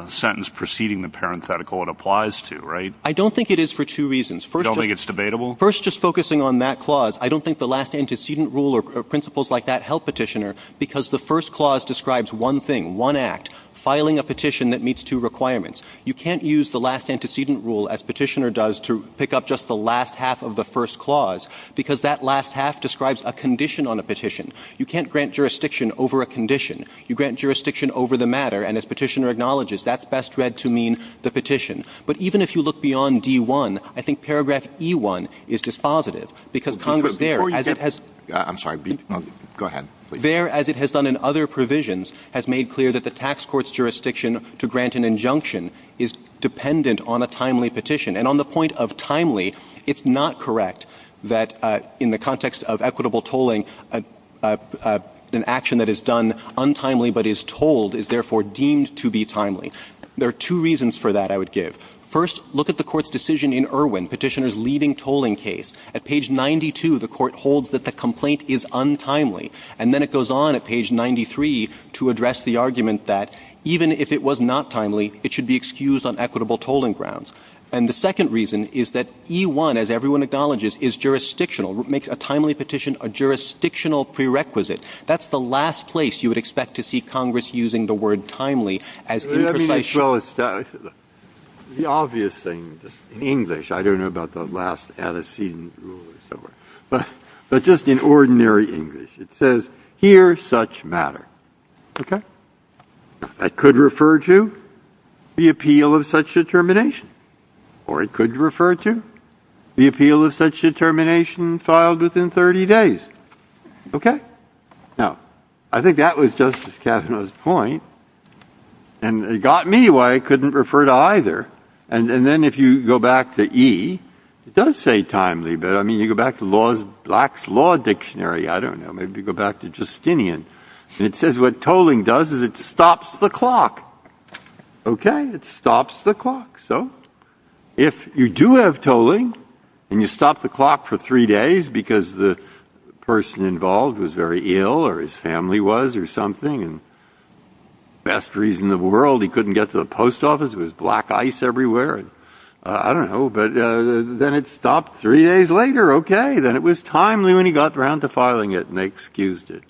sentence preceding the parenthetical it applies to, right? I don't think it is for two reasons. You don't think it's debatable? First, just focusing on that clause, I don't think the last antecedent rule or principles like that help Petitioner because the first clause describes one thing, one act, filing a petition that meets two requirements. You can't use the last antecedent rule, as Petitioner does, to pick up just the last half of the first clause because that last half describes a condition on a petition. You can't grant jurisdiction over a condition. You grant jurisdiction over the matter, and as Petitioner acknowledges, that's best read to mean the petition. But even if you look beyond D1, I think paragraph E1 is dispositive because Congress there, as it has. I'm sorry. Go ahead, please. There, as it has done in other provisions, has made clear that the tax court's decision to grant an injunction is dependent on a timely petition. And on the point of timely, it's not correct that in the context of equitable tolling, an action that is done untimely but is told is therefore deemed to be timely. There are two reasons for that I would give. First, look at the Court's decision in Irwin, Petitioner's leading tolling case. At page 92, the Court holds that the complaint is untimely. And then it goes on at page 93 to address the argument that even if it was not timely, it should be excused on equitable tolling grounds. And the second reason is that E1, as everyone acknowledges, is jurisdictional. It makes a timely petition a jurisdictional prerequisite. That's the last place you would expect to see Congress using the word timely as imprecision. Breyer, I mean, as well as the obvious thing, just in English. But just in ordinary English, it says, here's such matter. Okay? That could refer to the appeal of such determination. Or it could refer to the appeal of such determination filed within 30 days. Okay? Now, I think that was Justice Kavanaugh's point. And it got me why it couldn't refer to either. And then if you go back to E, it does say timely. But, I mean, you go back to Black's Law Dictionary. I don't know. Maybe you go back to Justinian. And it says what tolling does is it stops the clock. Okay? It stops the clock. So if you do have tolling and you stop the clock for three days because the person involved was very ill or his family was or something, and best reason in the world he couldn't get to the post office, it was black ice everywhere. I don't know. But then it stopped three days later. Okay. Then it was timely when he got around to filing it. And they excused it.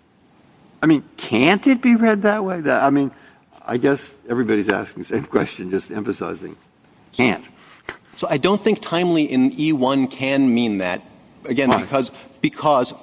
I mean, can't it be read that way? I mean, I guess everybody's asking the same question, just emphasizing can't. So I don't think timely in E1 can mean that. Why? Again, because,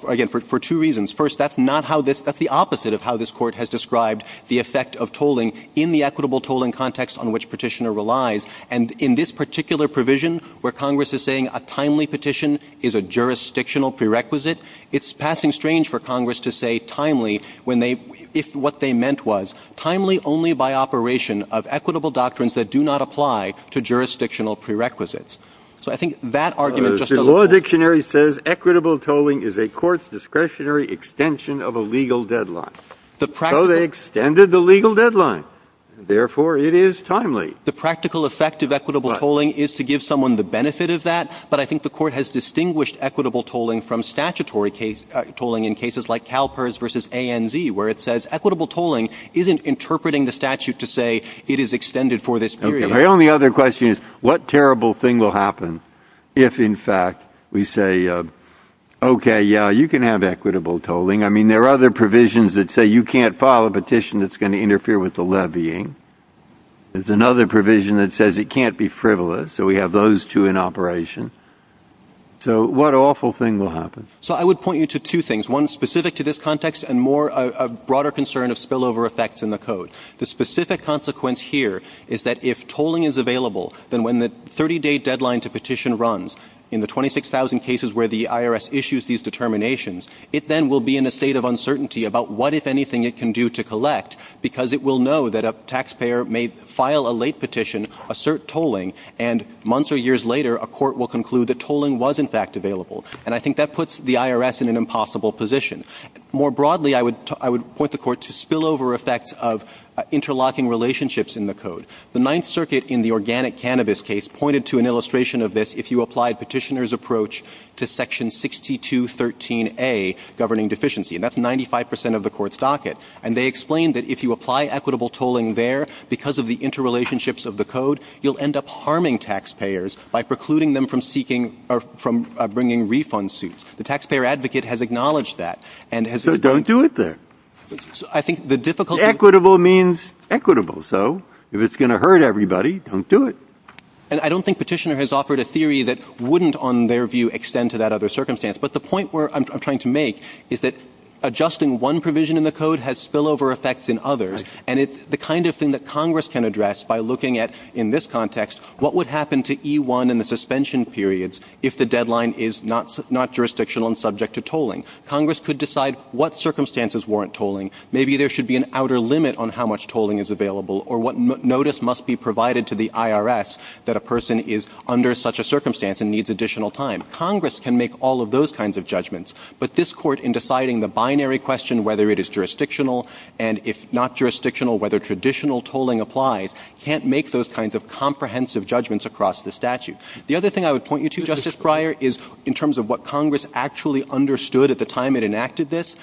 again, for two reasons. First, that's not how this, that's the opposite of how this Court has described the effect of tolling in the equitable tolling context on which Petitioner relies. And in this particular provision where Congress is saying a timely petition is a jurisdictional prerequisite, it's passing strange for Congress to say timely when they, if what they meant was timely only by operation of equitable doctrines that do not apply to jurisdictional prerequisites. So I think that argument just doesn't hold. The law dictionary says equitable tolling is a court's discretionary extension of a legal deadline. So they extended the legal deadline. Therefore, it is timely. The practical effect of equitable tolling is to give someone the benefit of that. But I think the Court has distinguished equitable tolling from statutory tolling in cases like CalPERS v. ANZ, where it says equitable tolling isn't interpreting the statute to say it is extended for this period. My only other question is what terrible thing will happen if, in fact, we say, okay, yeah, you can have equitable tolling. I mean, there are other provisions that say you can't file a petition that's going to interfere with the levying. There's another provision that says it can't be frivolous. So we have those two in operation. So what awful thing will happen? So I would point you to two things, one specific to this context and more a broader concern of spillover effects in the Code. The specific consequence here is that if tolling is available, then when the 30-day deadline to petition runs in the 26,000 cases where the IRS issues these determinations, it then will be in a state of uncertainty about what, if anything, it can do to collect, because it will know that a taxpayer may file a late petition, assert tolling, and months or years later a court will conclude that tolling was, in fact, available. And I think that puts the IRS in an impossible position. More broadly, I would point the Court to spillover effects of interlocking relationships in the Code. The Ninth Circuit in the organic cannabis case pointed to an illustration of this if you applied Petitioner's approach to section 6213A, governing deficiency. And that's 95 percent of the Court's docket. And they explained that if you apply equitable tolling there because of the interrelationships of the Code, you'll end up harming taxpayers by precluding them from seeking or from bringing refund suits. The taxpayer advocate has acknowledged that. And it has to be done. Breyer. So don't do it there. Equitable means equitable. So if it's going to hurt everybody, don't do it. And I don't think Petitioner has offered a theory that wouldn't, on their view, extend to that other circumstance. But the point where I'm trying to make is that adjusting one provision in the Code has spillover effects in others. And it's the kind of thing that Congress can address by looking at, in this context, what would happen to E1 and the suspension periods if the deadline is not jurisdictional and subject to tolling? Congress could decide what circumstances warrant tolling. Maybe there should be an outer limit on how much tolling is available or what notice must be provided to the IRS that a person is under such a circumstance and needs additional time. Congress can make all of those kinds of judgments. But this Court, in deciding the binary question, whether it is jurisdictional and if not jurisdictional, whether traditional tolling applies, can't make those kinds of comprehensive judgments across the statute. The other thing I would point you to, Justice Breyer, is in terms of what Congress actually understood at the time it enacted this.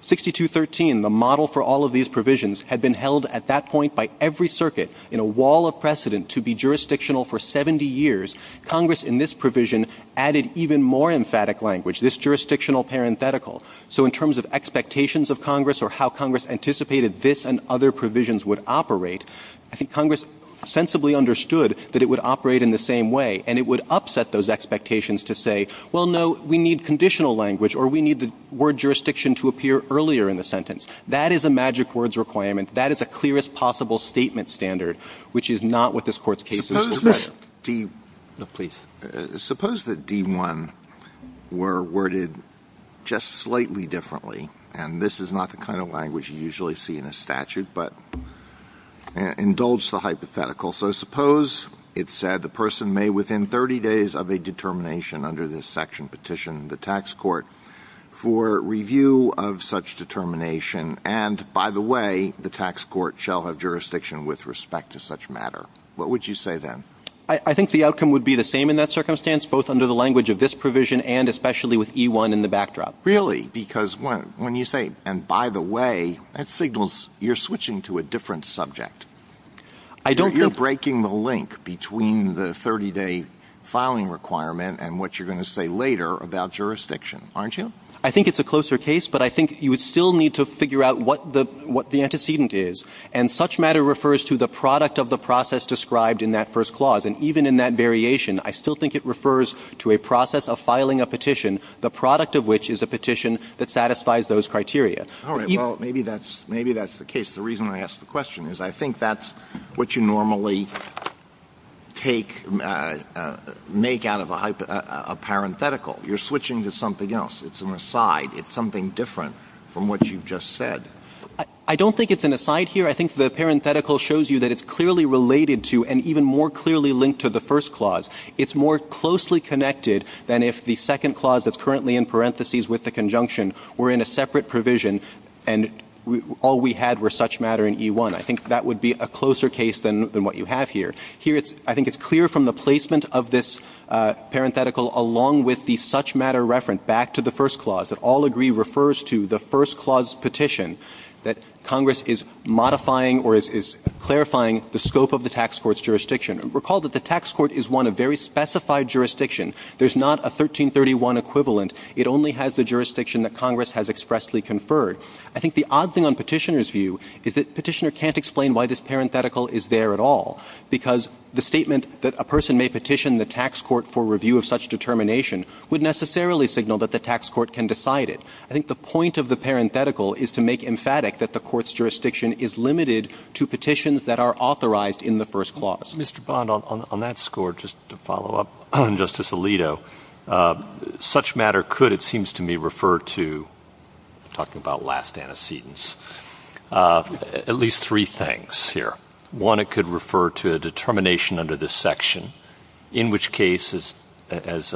6213, the model for all of these provisions, had been held at that point by every circuit in a wall of precedent to be jurisdictional for 70 years. Congress, in this provision, added even more emphatic language, this jurisdictional parenthetical. So in terms of expectations of Congress or how Congress anticipated this and other jurisdictions, Congress sensibly understood that it would operate in the same way and it would upset those expectations to say, well, no, we need conditional language or we need the word jurisdiction to appear earlier in the sentence. That is a magic words requirement. That is a clearest possible statement standard, which is not what this Court's case is, Justice Breyer. Alito, please. Suppose that D1 were worded just slightly differently, and this is not the kind of language you usually see in a statute, but indulge the hypothetical. So suppose it said the person may within 30 days of a determination under this section petition the tax court for review of such determination, and by the way, the tax court shall have jurisdiction with respect to such matter. What would you say then? I think the outcome would be the same in that circumstance, both under the language of this provision and especially with E1 in the backdrop. Really? Because when you say, and by the way, that signals you're switching to a different subject. I don't think you're breaking the link between the 30-day filing requirement and what you're going to say later about jurisdiction, aren't you? I think it's a closer case, but I think you would still need to figure out what the antecedent is. And such matter refers to the product of the process described in that first clause. And even in that variation, I still think it refers to a process of filing a petition, the product of which is a petition that satisfies those criteria. All right. Well, maybe that's the case. The reason I ask the question is I think that's what you normally take, make out of a parenthetical. You're switching to something else. It's an aside. It's something different from what you've just said. I don't think it's an aside here. I think the parenthetical shows you that it's clearly related to and even more clearly linked to the first clause. It's more closely connected than if the second clause that's currently in parentheses with the conjunction were in a separate provision and all we had were such matter and E1. I think that would be a closer case than what you have here. Here, I think it's clear from the placement of this parenthetical along with the such matter reference back to the first clause that all agree refers to the first clause petition that Congress is modifying or is clarifying the scope of the tax court's jurisdiction. Recall that the tax court is one of very specified jurisdiction. There's not a 1331 equivalent. It only has the jurisdiction that Congress has expressly conferred. I think the odd thing on Petitioner's view is that Petitioner can't explain why this parenthetical is there at all because the statement that a person may petition the tax court for review of such determination would necessarily signal that the tax court can decide it. I think the point of the parenthetical is to make emphatic that the court's jurisdiction is limited to petitions that are authorized in the first clause. Mr. Bond, on that score, just to follow up on Justice Alito, such matter could, it seems to me, refer to, talking about last antecedents, at least three things here. One, it could refer to a determination under this section, in which case, as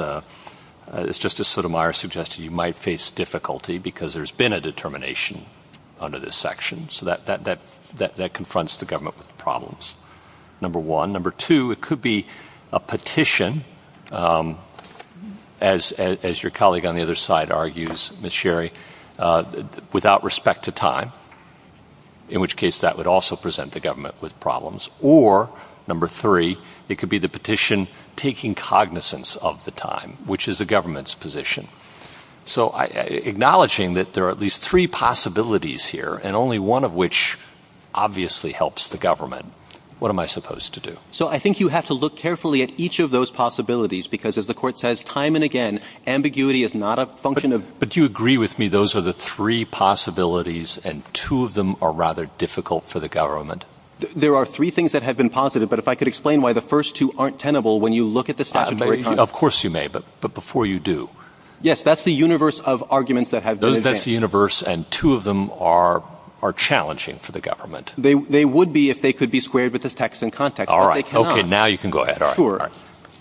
Justice Sotomayor suggested, you might face difficulty because there's been a determination under this section. So that confronts the government with problems. Number one. Number two, it could be a petition, as your colleague on the other side argues, Ms. Sherry, without respect to time, in which case that would also present the government with problems. Or, number three, it could be the petition taking cognizance of the time, which is the government's position. So acknowledging that there are at least three possibilities here and only one of which obviously helps the government, what am I supposed to do? So I think you have to look carefully at each of those possibilities because, as the Court says time and again, ambiguity is not a function of – But do you agree with me those are the three possibilities and two of them are rather difficult for the government? There are three things that have been positive, but if I could explain why the first two aren't tenable when you look at the statutory – Of course you may, but before you do – Yes, that's the universe of arguments that have been advanced. That's the universe and two of them are challenging for the government. They would be if they could be squared with this text and context, but they cannot. All right, okay, now you can go ahead. Sure. All right.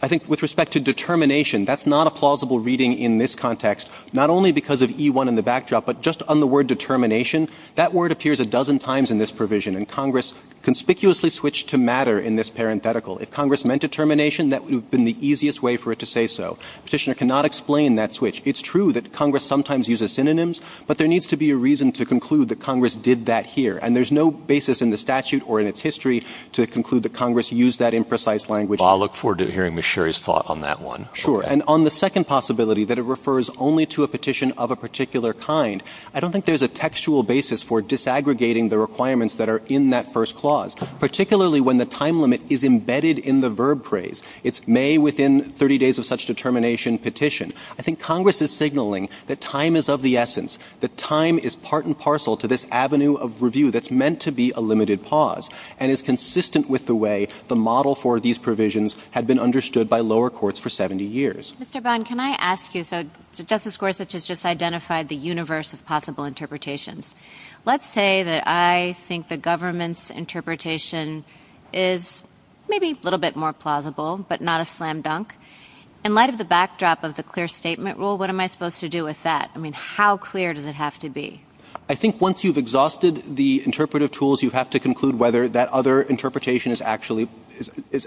I think with respect to determination, that's not a plausible reading in this context, not only because of E1 in the backdrop, but just on the word determination, that word appears a dozen times in this provision and Congress conspicuously switched to matter in this parenthetical. If Congress meant determination, that would have been the easiest way for it to say so. Petitioner cannot explain that switch. It's true that Congress sometimes uses synonyms, but there needs to be a reason to conclude that Congress did that here. And there's no basis in the statute or in its history to conclude that Congress used that imprecise language. Well, I look forward to hearing Ms. Sherry's thought on that one. Sure. And on the second possibility, that it refers only to a petition of a particular kind, I don't think there's a textual basis for disaggregating the requirements that are in that first clause, particularly when the time limit is embedded in the verb phrase. It's may within 30 days of such determination petition. I think Congress is signaling that time is of the essence, that time is part and parcel to this avenue of review that's meant to be a limited pause and is consistent with the way the model for these provisions had been understood by lower courts for 70 years. Mr. Bond, can I ask you, so Justice Gorsuch has just identified the universe of possible interpretations. Let's say that I think the government's interpretation is maybe a little bit more plausible, but not a slam dunk. In light of the backdrop of the clear statement rule, what am I supposed to do with that? I mean, how clear does it have to be? I think once you've exhausted the interpretive tools, you have to conclude whether that other interpretation is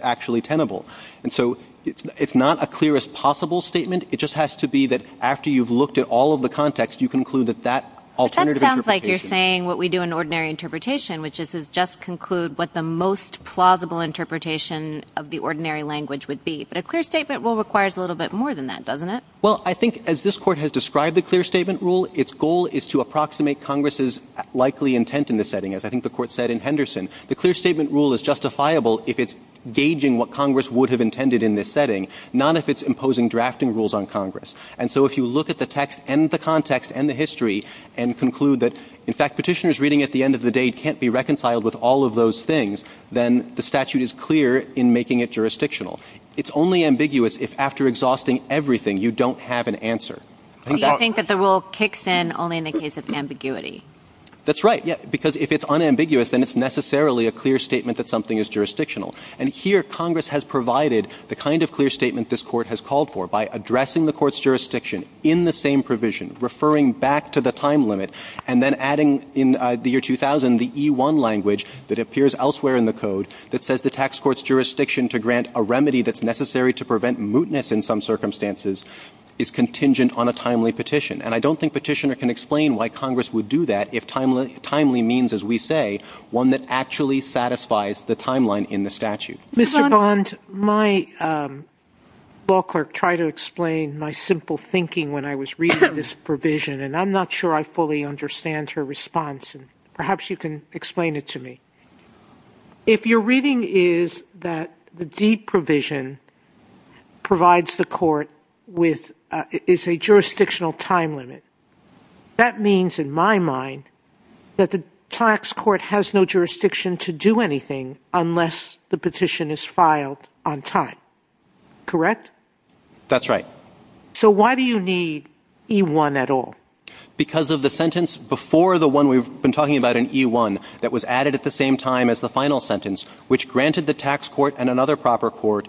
actually tenable. And so it's not a clearest possible statement. It just has to be that after you've looked at all of the context, you conclude that that alternative interpretation. But that sounds like you're saying what we do in ordinary interpretation, which is just conclude what the most plausible interpretation of the ordinary language would be. But a clear statement rule requires a little bit more than that, doesn't it? Well, I think as this Court has described the clear statement rule, its goal is to approximate Congress's likely intent in the setting, as I think the Court said in Henderson. The clear statement rule is justifiable if it's gauging what Congress would have intended in this setting, not if it's imposing drafting rules on Congress. And so if you look at the text and the context and the history and conclude that in fact Petitioner's reading at the end of the day can't be reconciled with all of those things, then the statute is clear in making it jurisdictional. It's only ambiguous if after exhausting everything, you don't have an answer. So you think that the rule kicks in only in the case of ambiguity? That's right. Because if it's unambiguous, then it's necessarily a clear statement that something is jurisdictional. And here Congress has provided the kind of clear statement this Court has called for by addressing the Court's jurisdiction in the same provision, referring back to the time limit, and then adding in the year 2000 the E1 language that appears elsewhere in the code that says the tax court's jurisdiction to grant a remedy that's necessary to prevent mootness in some circumstances is contingent on a timely petition. And I don't think Petitioner can explain why Congress would do that if timely means, as we say, one that actually satisfies the timeline in the statute. Mr. Bond, my law clerk tried to explain my simple thinking when I was reading this provision, and I'm not sure I fully understand her response, and perhaps you can explain it to me. If your reading is that the deed provision provides the court with a jurisdictional time limit, that means, in my mind, that the tax court has no jurisdiction to do anything unless the petition is filed on time. Correct? That's right. So why do you need E1 at all? Because of the sentence before the one we've been talking about in E1 that was added at the same time as the final sentence, which granted the tax court and another proper court,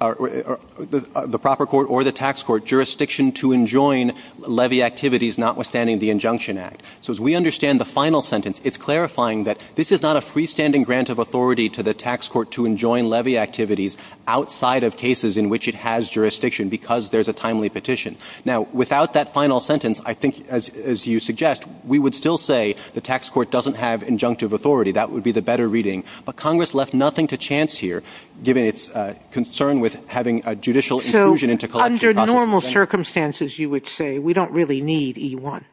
the proper court or the tax court, jurisdiction to enjoin levy activities notwithstanding the injunction act. So as we understand the final sentence, it's clarifying that this is not a freestanding grant of authority to the tax court to enjoin levy activities outside of cases in which it has jurisdiction because there's a timely petition. Now, without that final sentence, I think, as you suggest, we would still say the tax court doesn't have injunctive authority. That would be the better reading. But Congress left nothing to chance here, given its concern with having a judicial inclusion into collection. So under normal circumstances, you would say, we don't really need E1?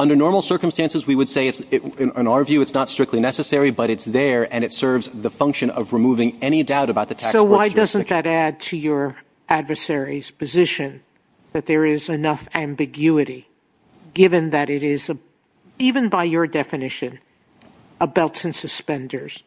Under normal circumstances, we would say, in our view, it's not strictly necessary, but it's there, and it serves the function of removing any doubt about the tax court's jurisdiction. But wouldn't that add to your adversary's position that there is enough ambiguity, given that it is, even by your definition, a belts and suspenders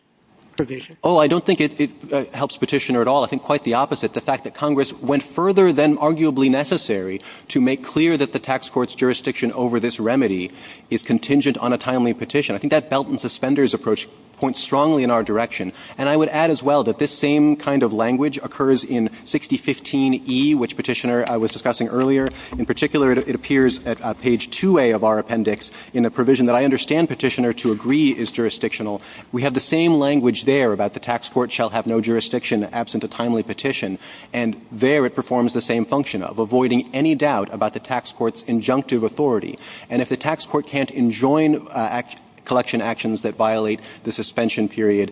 provision? Oh, I don't think it helps Petitioner at all. I think quite the opposite, the fact that Congress went further than arguably necessary to make clear that the tax court's jurisdiction over this remedy is contingent on a timely petition. I think that belts and suspenders approach points strongly in our direction. And I would add as well that this same kind of language occurs in 6015E, which Petitioner was discussing earlier. In particular, it appears at page 2A of our appendix in a provision that I understand Petitioner to agree is jurisdictional. We have the same language there about the tax court shall have no jurisdiction absent a timely petition. And there it performs the same function of avoiding any doubt about the tax court's injunctive authority. And if the tax court can't enjoin collection actions that violate the suspension period,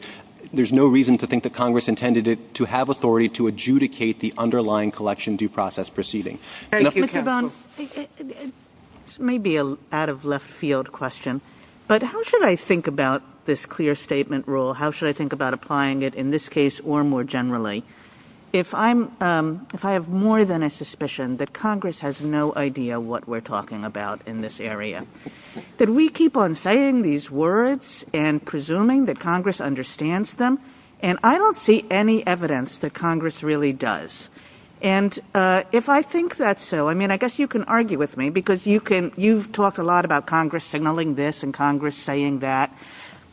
there's no reason to think that Congress intended to have authority to adjudicate the underlying collection due process proceeding. Thank you, counsel. Mr. Bohn, this may be an out-of-left-field question, but how should I think about this clear statement rule? How should I think about applying it in this case or more generally? If I have more than a suspicion that Congress has no idea what we're talking about in this area, that we keep on saying these words and presuming that Congress understands them, and I don't see any evidence that Congress really does. And if I think that's so, I mean, I guess you can argue with me because you've talked a lot about Congress signaling this and Congress saying that.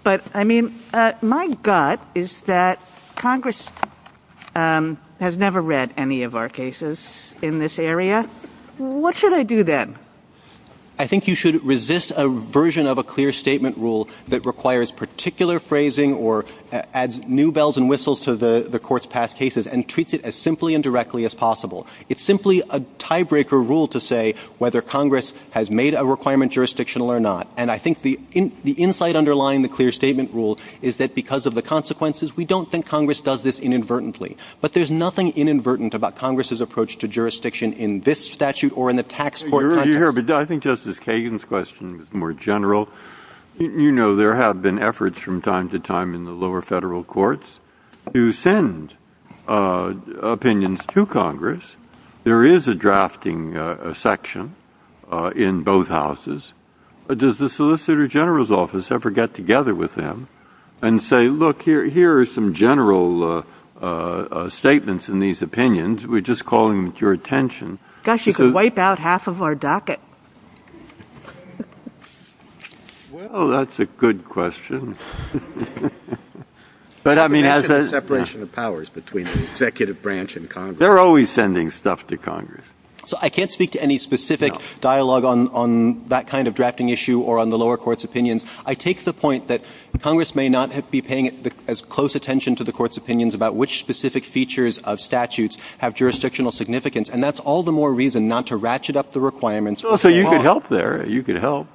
But, I mean, my gut is that Congress has never read any of our cases in this area. What should I do then? I think you should resist a version of a clear statement rule that requires particular phrasing or adds new bells and whistles to the court's past cases and treats it as simply and directly as possible. It's simply a tiebreaker rule to say whether Congress has made a requirement jurisdictional or not. And I think the insight underlying the clear statement rule is that because of the consequences, we don't think Congress does this inadvertently. But there's nothing inadvertent about Congress's approach to jurisdiction in this statute or in the tax court context. But I think Justice Kagan's question is more general. You know, there have been efforts from time to time in the lower Federal courts to send opinions to Congress. There is a drafting section in both houses. Does the Solicitor General's office ever get together with them and say, look, here are some general statements in these opinions. We're just calling them to your attention. Kagan. Gosh, you could wipe out half of our docket. Well, that's a good question. But, I mean, as a separation of powers between the executive branch and Congress. They're always sending stuff to Congress. So I can't speak to any specific dialogue on that kind of drafting issue or on the lower court's opinions. I take the point that Congress may not be paying as close attention to the court's opinions about which specific features of statutes have jurisdictional significance. And that's all the more reason not to ratchet up the requirements. Well, so you could help there. You could help.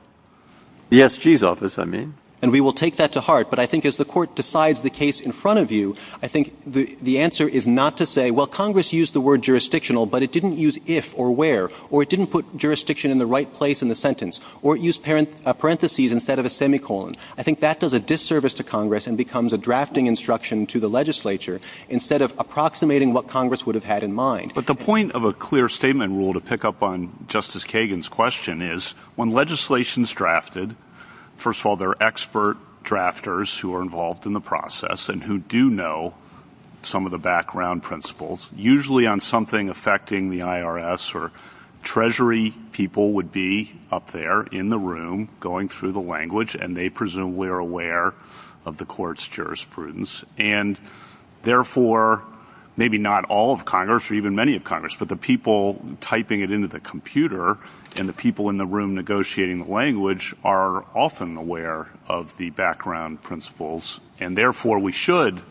The SG's office, I mean. And we will take that to heart. But I think as the Court decides the case in front of you, I think the answer is not to say, well, Congress used the word jurisdictional, but it didn't use if or where. Or it didn't put jurisdiction in the right place in the sentence. Or it used parentheses instead of a semicolon. I think that does a disservice to Congress and becomes a drafting instruction to the legislature instead of approximating what Congress would have had in mind. But the point of a clear statement rule to pick up on Justice Kagan's question is when legislation is drafted, first of all, there are expert drafters who are involved in the process and who do know some of the background principles. Usually on something affecting the IRS or Treasury people would be up there in the room going through the language, and they presumably are aware of the Court's jurisprudence. And therefore, maybe not all of Congress or even many of Congress, but the people typing it into the computer and the people in the room negotiating the language are often aware of the background principles. And therefore, we should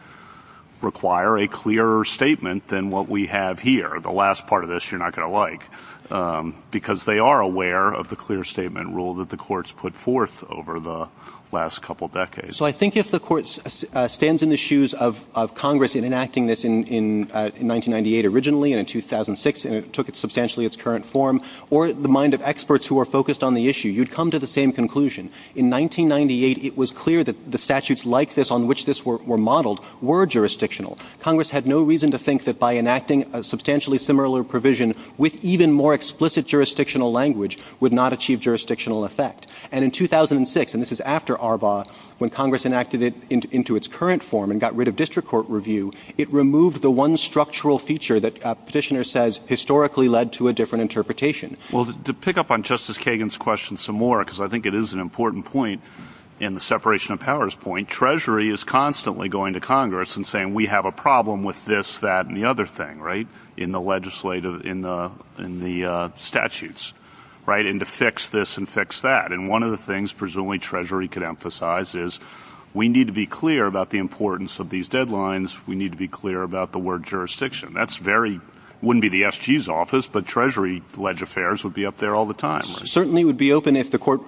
require a clearer statement than what we have here. The last part of this you're not going to like, because they are aware of the clear statement rule that the Court's put forth over the last couple decades. So I think if the Court stands in the shoes of Congress in enacting this in 1998 originally and in 2006, and it took substantially its current form, or the mind of experts who are focused on the issue, you'd come to the same conclusion. In 1998, it was clear that the statutes like this on which this were modeled were jurisdictional. Congress had no reason to think that by enacting a substantially similar provision with even more explicit jurisdictional language would not achieve jurisdictional effect. And in 2006, and this is after Arbaugh, when Congress enacted it into its current form and got rid of district court review, it removed the one structural feature that Petitioner says historically led to a different interpretation. Well, to pick up on Justice Kagan's question some more, because I think it is an important point in the separation of powers point, Treasury is constantly going to Congress and saying we have a problem with this, that, and the other thing, right, in the legislative, in the statutes, right, and to fix this and fix that. And one of the things presumably Treasury could emphasize is we need to be clear about the importance of these deadlines. We need to be clear about the word jurisdiction. That's very, wouldn't be the SG's office, but Treasury-led affairs would be up there all the time. Certainly would be open if the court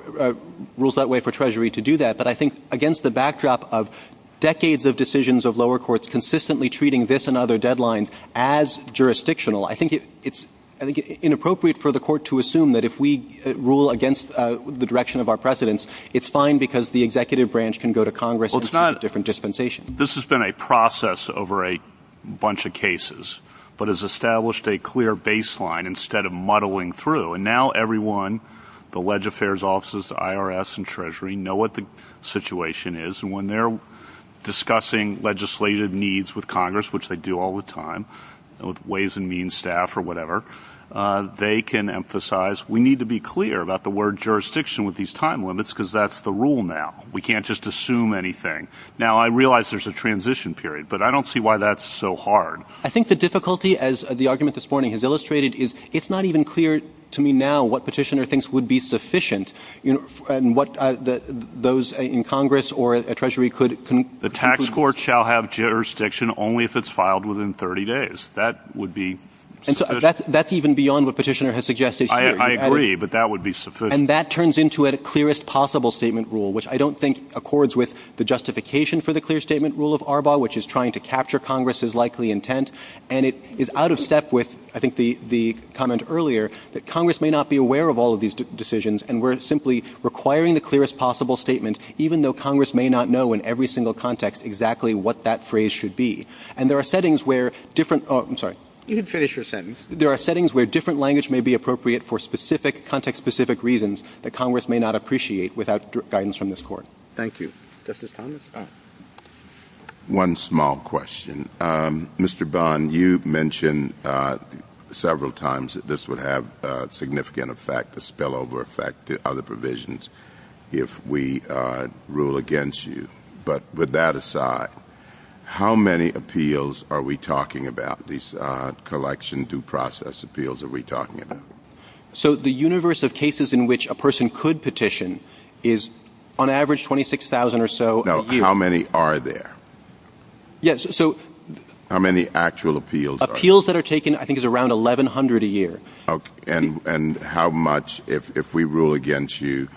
rules that way for Treasury to do that. But I think against the backdrop of decades of decisions of lower courts consistently treating this and other deadlines as jurisdictional, I think it's inappropriate for the court to assume that if we rule against the direction of our precedents, it's fine because the executive branch can go to Congress and see the different dispensation. This has been a process over a bunch of cases, but has established a clear baseline instead of muddling through. And now everyone, the ledge affairs offices, the IRS and Treasury, know what the situation is. And when they're discussing legislative needs with Congress, which they do all the time, with ways and means staff or whatever, they can emphasize we need to be clear about the word jurisdiction with these time limits because that's the rule now. We can't just assume anything. Now, I realize there's a transition period, but I don't see why that's so hard. I think the difficulty, as the argument this morning has illustrated, is it's not even clear to me now what Petitioner thinks would be sufficient and what those in Congress or Treasury could conclude. The tax court shall have jurisdiction only if it's filed within 30 days. That would be sufficient. That's even beyond what Petitioner has suggested. I agree, but that would be sufficient. And that turns into a clearest possible statement rule, which I don't think accords with the justification for the clear statement rule of ARBA, which is trying to capture Congress's likely intent. And it is out of step with, I think, the comment earlier that Congress may not be aware of all of these decisions, and we're simply requiring the clearest possible statement, even though Congress may not know in every single context exactly what that phrase should be. And there are settings where different – oh, I'm sorry. You can finish your sentence. There are settings where different language may be appropriate for specific context-specific reasons that Congress may not appreciate without guidance from this Court. Thank you. Justice Thomas. One small question. Mr. Bond, you mentioned several times that this would have significant effect, a spillover effect to other provisions if we rule against you. But with that aside, how many appeals are we talking about, these collection due process appeals are we talking about? So the universe of cases in which a person could petition is on average 26,000 or so a year. Now, how many are there? Yes, so – How many actual appeals are there? Appeals that are taken, I think, is around 1,100 a year. And how much – if we rule against you,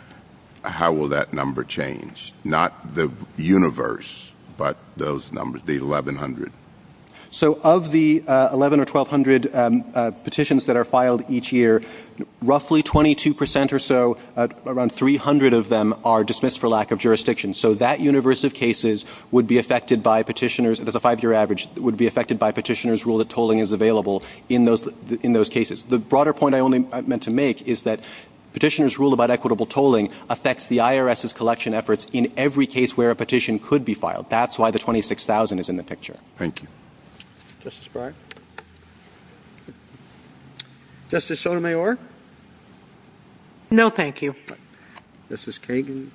how will that number change? Not the universe, but those numbers, the 1,100. So of the 1,100 or 1,200 petitions that are filed each year, roughly 22% or so, around 300 of them are dismissed for lack of jurisdiction. So that universe of cases would be affected by petitioners – that's a five-year average – would be affected by petitioners' rule that tolling is available in those cases. The broader point I only meant to make is that petitioners' rule about equitable tolling affects the IRS's collection efforts in every case where a petition could be filed. That's why the 26,000 is in the picture. Thank you. Justice Breyer? Justice Sotomayor? No, thank you. Justice Kagan?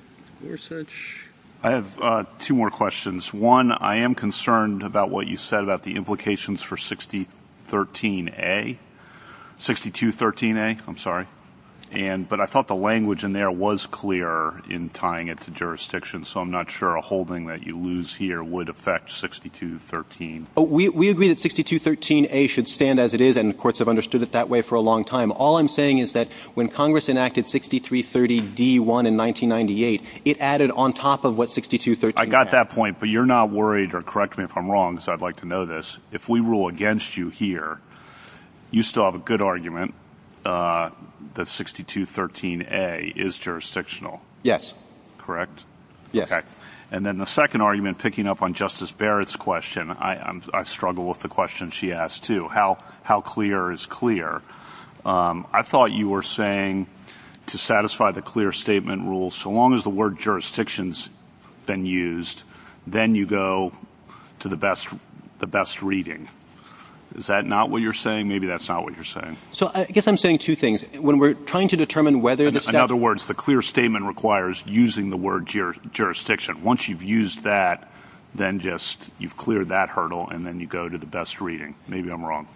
I have two more questions. One, I am concerned about what you said about the implications for 6213A. 6213A, I'm sorry. But I thought the language in there was clear in tying it to jurisdiction, so I'm not sure a holding that you lose here would affect 6213. We agree that 6213A should stand as it is, and the courts have understood it that way for a long time. All I'm saying is that when Congress enacted 6330D1 in 1998, it added on top of what 6213 had. I got that point, but you're not worried – or correct me if I'm wrong, because I'd like to know this – if we rule against you here, you still have a good argument that 6213A is jurisdictional. Yes. Correct? Yes. Okay. And then the second argument, picking up on Justice Barrett's question, I struggle with the question she asked too, how clear is clear. I thought you were saying to satisfy the clear statement rule, so long as the word jurisdiction has been used, then you go to the best reading. Is that not what you're saying? Maybe that's not what you're saying. So I guess I'm saying two things. When we're trying to determine whether the – In other words, the clear statement requires using the word jurisdiction. Once you've used that, then just – you've cleared that hurdle, and then you go to the best reading. Maybe I'm wrong.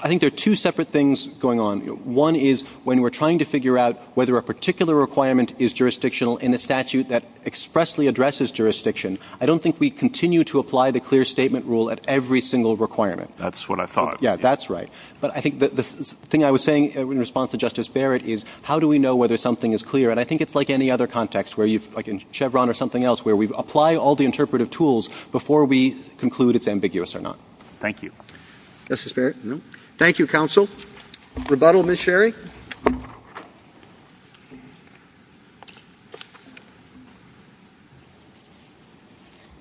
I think there are two separate things going on. One is when we're trying to figure out whether a particular requirement is jurisdictional in a statute that expressly addresses jurisdiction, I don't think we continue to apply the clear statement rule at every single requirement. That's what I thought. Yeah, that's right. But I think the thing I was saying in response to Justice Barrett is how do we know whether something is clear? And I think it's like any other context, like in Chevron or something else, where we apply all the interpretive tools before we conclude it's ambiguous or not. Thank you. Justice Barrett? No. Thank you, counsel. Rebuttal, Ms. Sherry?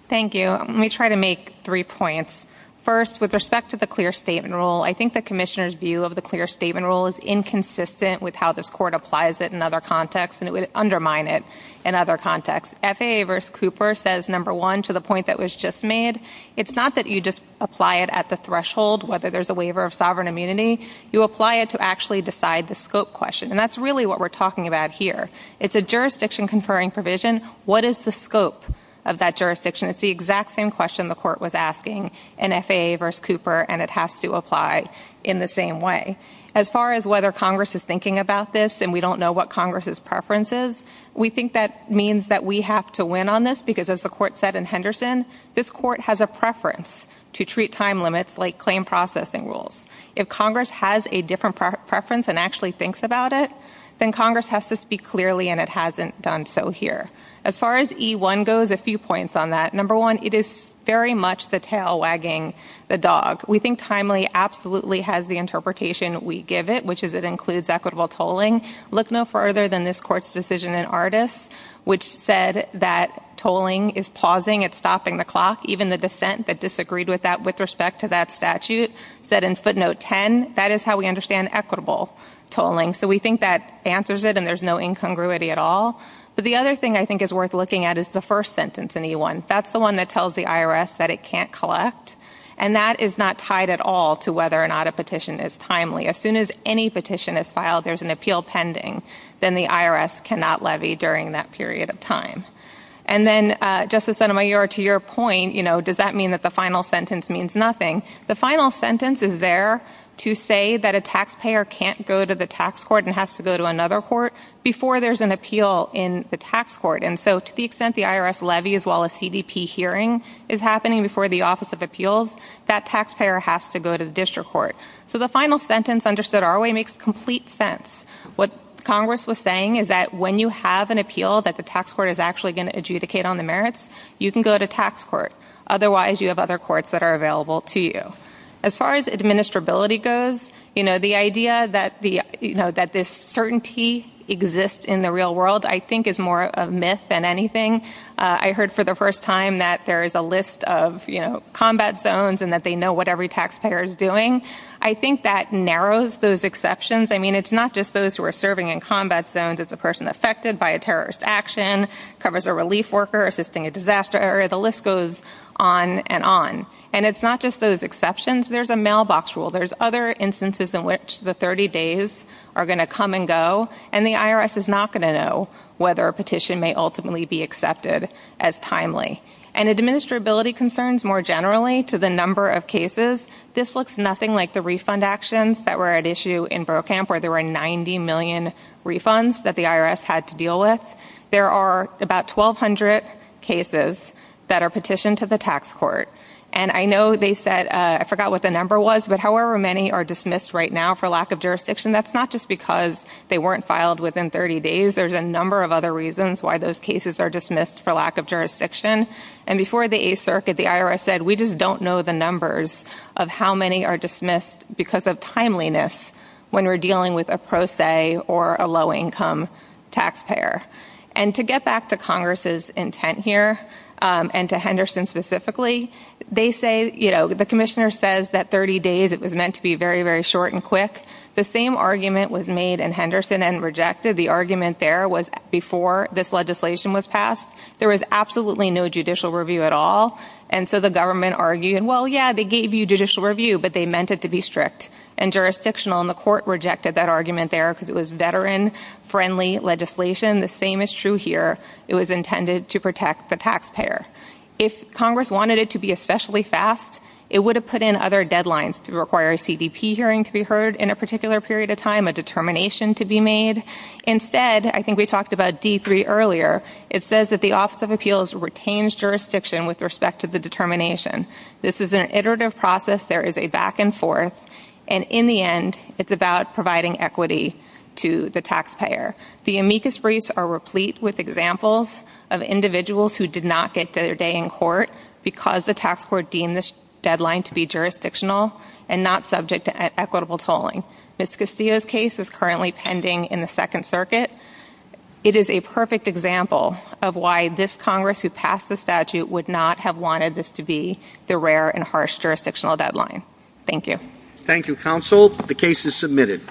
Thank you. Let me try to make three points. First, with respect to the clear statement rule, I think the commissioner's view of the clear statement rule is inconsistent with how this Court applies it in other contexts, and it would undermine it in other contexts. FAA v. Cooper says, number one, to the point that was just made, it's not that you just apply it at the threshold, whether there's a waiver of sovereign immunity. You apply it to actually decide the scope question, and that's really what we're talking about here. It's a jurisdiction-conferring provision. What is the scope of that jurisdiction? It's the exact same question the Court was asking in FAA v. Cooper, and it has to apply in the same way. As far as whether Congress is thinking about this and we don't know what Congress's preference is, we think that means that we have to win on this, because as the Court said in Henderson, this Court has a preference to treat time limits like claim processing rules. If Congress has a different preference and actually thinks about it, then Congress has to speak clearly, and it hasn't done so here. As far as E1 goes, a few points on that. Number one, it is very much the tail wagging the dog. We think timely absolutely has the interpretation we give it, which is it includes equitable tolling. Look no further than this Court's decision in Ardis, which said that tolling is pausing, it's stopping the clock. Even the dissent that disagreed with that with respect to that statute said in footnote 10, that is how we understand equitable tolling. So we think that answers it and there's no incongruity at all. But the other thing I think is worth looking at is the first sentence in E1. That's the one that tells the IRS that it can't collect, and that is not tied at all to whether or not a petition is timely. As soon as any petition is filed, there's an appeal pending, then the IRS cannot levy during that period of time. And then, Justice Sotomayor, to your point, does that mean that the final sentence means nothing? The final sentence is there to say that a taxpayer can't go to the tax court and has to go to another court before there's an appeal in the tax court. And so to the extent the IRS levies while a CDP hearing is happening before the Office of Appeals, that taxpayer has to go to the district court. So the final sentence understood our way makes complete sense. What Congress was saying is that when you have an appeal that the tax court is actually going to adjudicate on the merits, you can go to tax court. Otherwise, you have other courts that are available to you. As far as administrability goes, the idea that this certainty exists in the real world I think is more of a myth than anything. I heard for the first time that there is a list of combat zones and that they know what every taxpayer is doing. I think that narrows those exceptions. I mean, it's not just those who are serving in combat zones. It's a person affected by a terrorist action, covers a relief worker assisting a disaster area. The list goes on and on. And it's not just those exceptions. There's a mailbox rule. There's other instances in which the 30 days are going to come and go, and the IRS is not going to know whether a petition may ultimately be accepted as timely. And administrability concerns more generally to the number of cases. This looks nothing like the refund actions that were at issue in Brokamp where there were 90 million refunds that the IRS had to deal with. There are about 1,200 cases that are petitioned to the tax court. And I know they said, I forgot what the number was, but however many are dismissed right now for lack of jurisdiction, that's not just because they weren't filed within 30 days. There's a number of other reasons why those cases are dismissed for lack of jurisdiction. And before the 8th Circuit, the IRS said, we just don't know the numbers of how many are dismissed because of timeliness when we're dealing with a pro se or a low-income taxpayer. And to get back to Congress's intent here, and to Henderson specifically, they say, you know, the commissioner says that 30 days, it was meant to be very, very short and quick. The same argument was made in Henderson and rejected. The argument there was before this legislation was passed, there was absolutely no judicial review at all. And so the government argued, well, yeah, they gave you judicial review, but they meant it to be strict and jurisdictional, and the court rejected that argument there because it was veteran-friendly legislation. The same is true here. It was intended to protect the taxpayer. If Congress wanted it to be especially fast, it would have put in other deadlines to require a CDP hearing to be heard in a particular period of time, a determination to be made. Instead, I think we talked about D3 earlier, it says that the Office of Appeals retains jurisdiction with respect to the determination. This is an iterative process. There is a back and forth. And in the end, it's about providing equity to the taxpayer. The amicus briefs are replete with examples of individuals who did not get their day in court because the tax court deemed this deadline to be jurisdictional and not subject to equitable tolling. Ms. Castillo's case is currently pending in the Second Circuit. It is a perfect example of why this Congress, who passed the statute, would not have wanted this to be the rare and harsh jurisdictional deadline. Thank you. Thank you, Counsel. The case is submitted.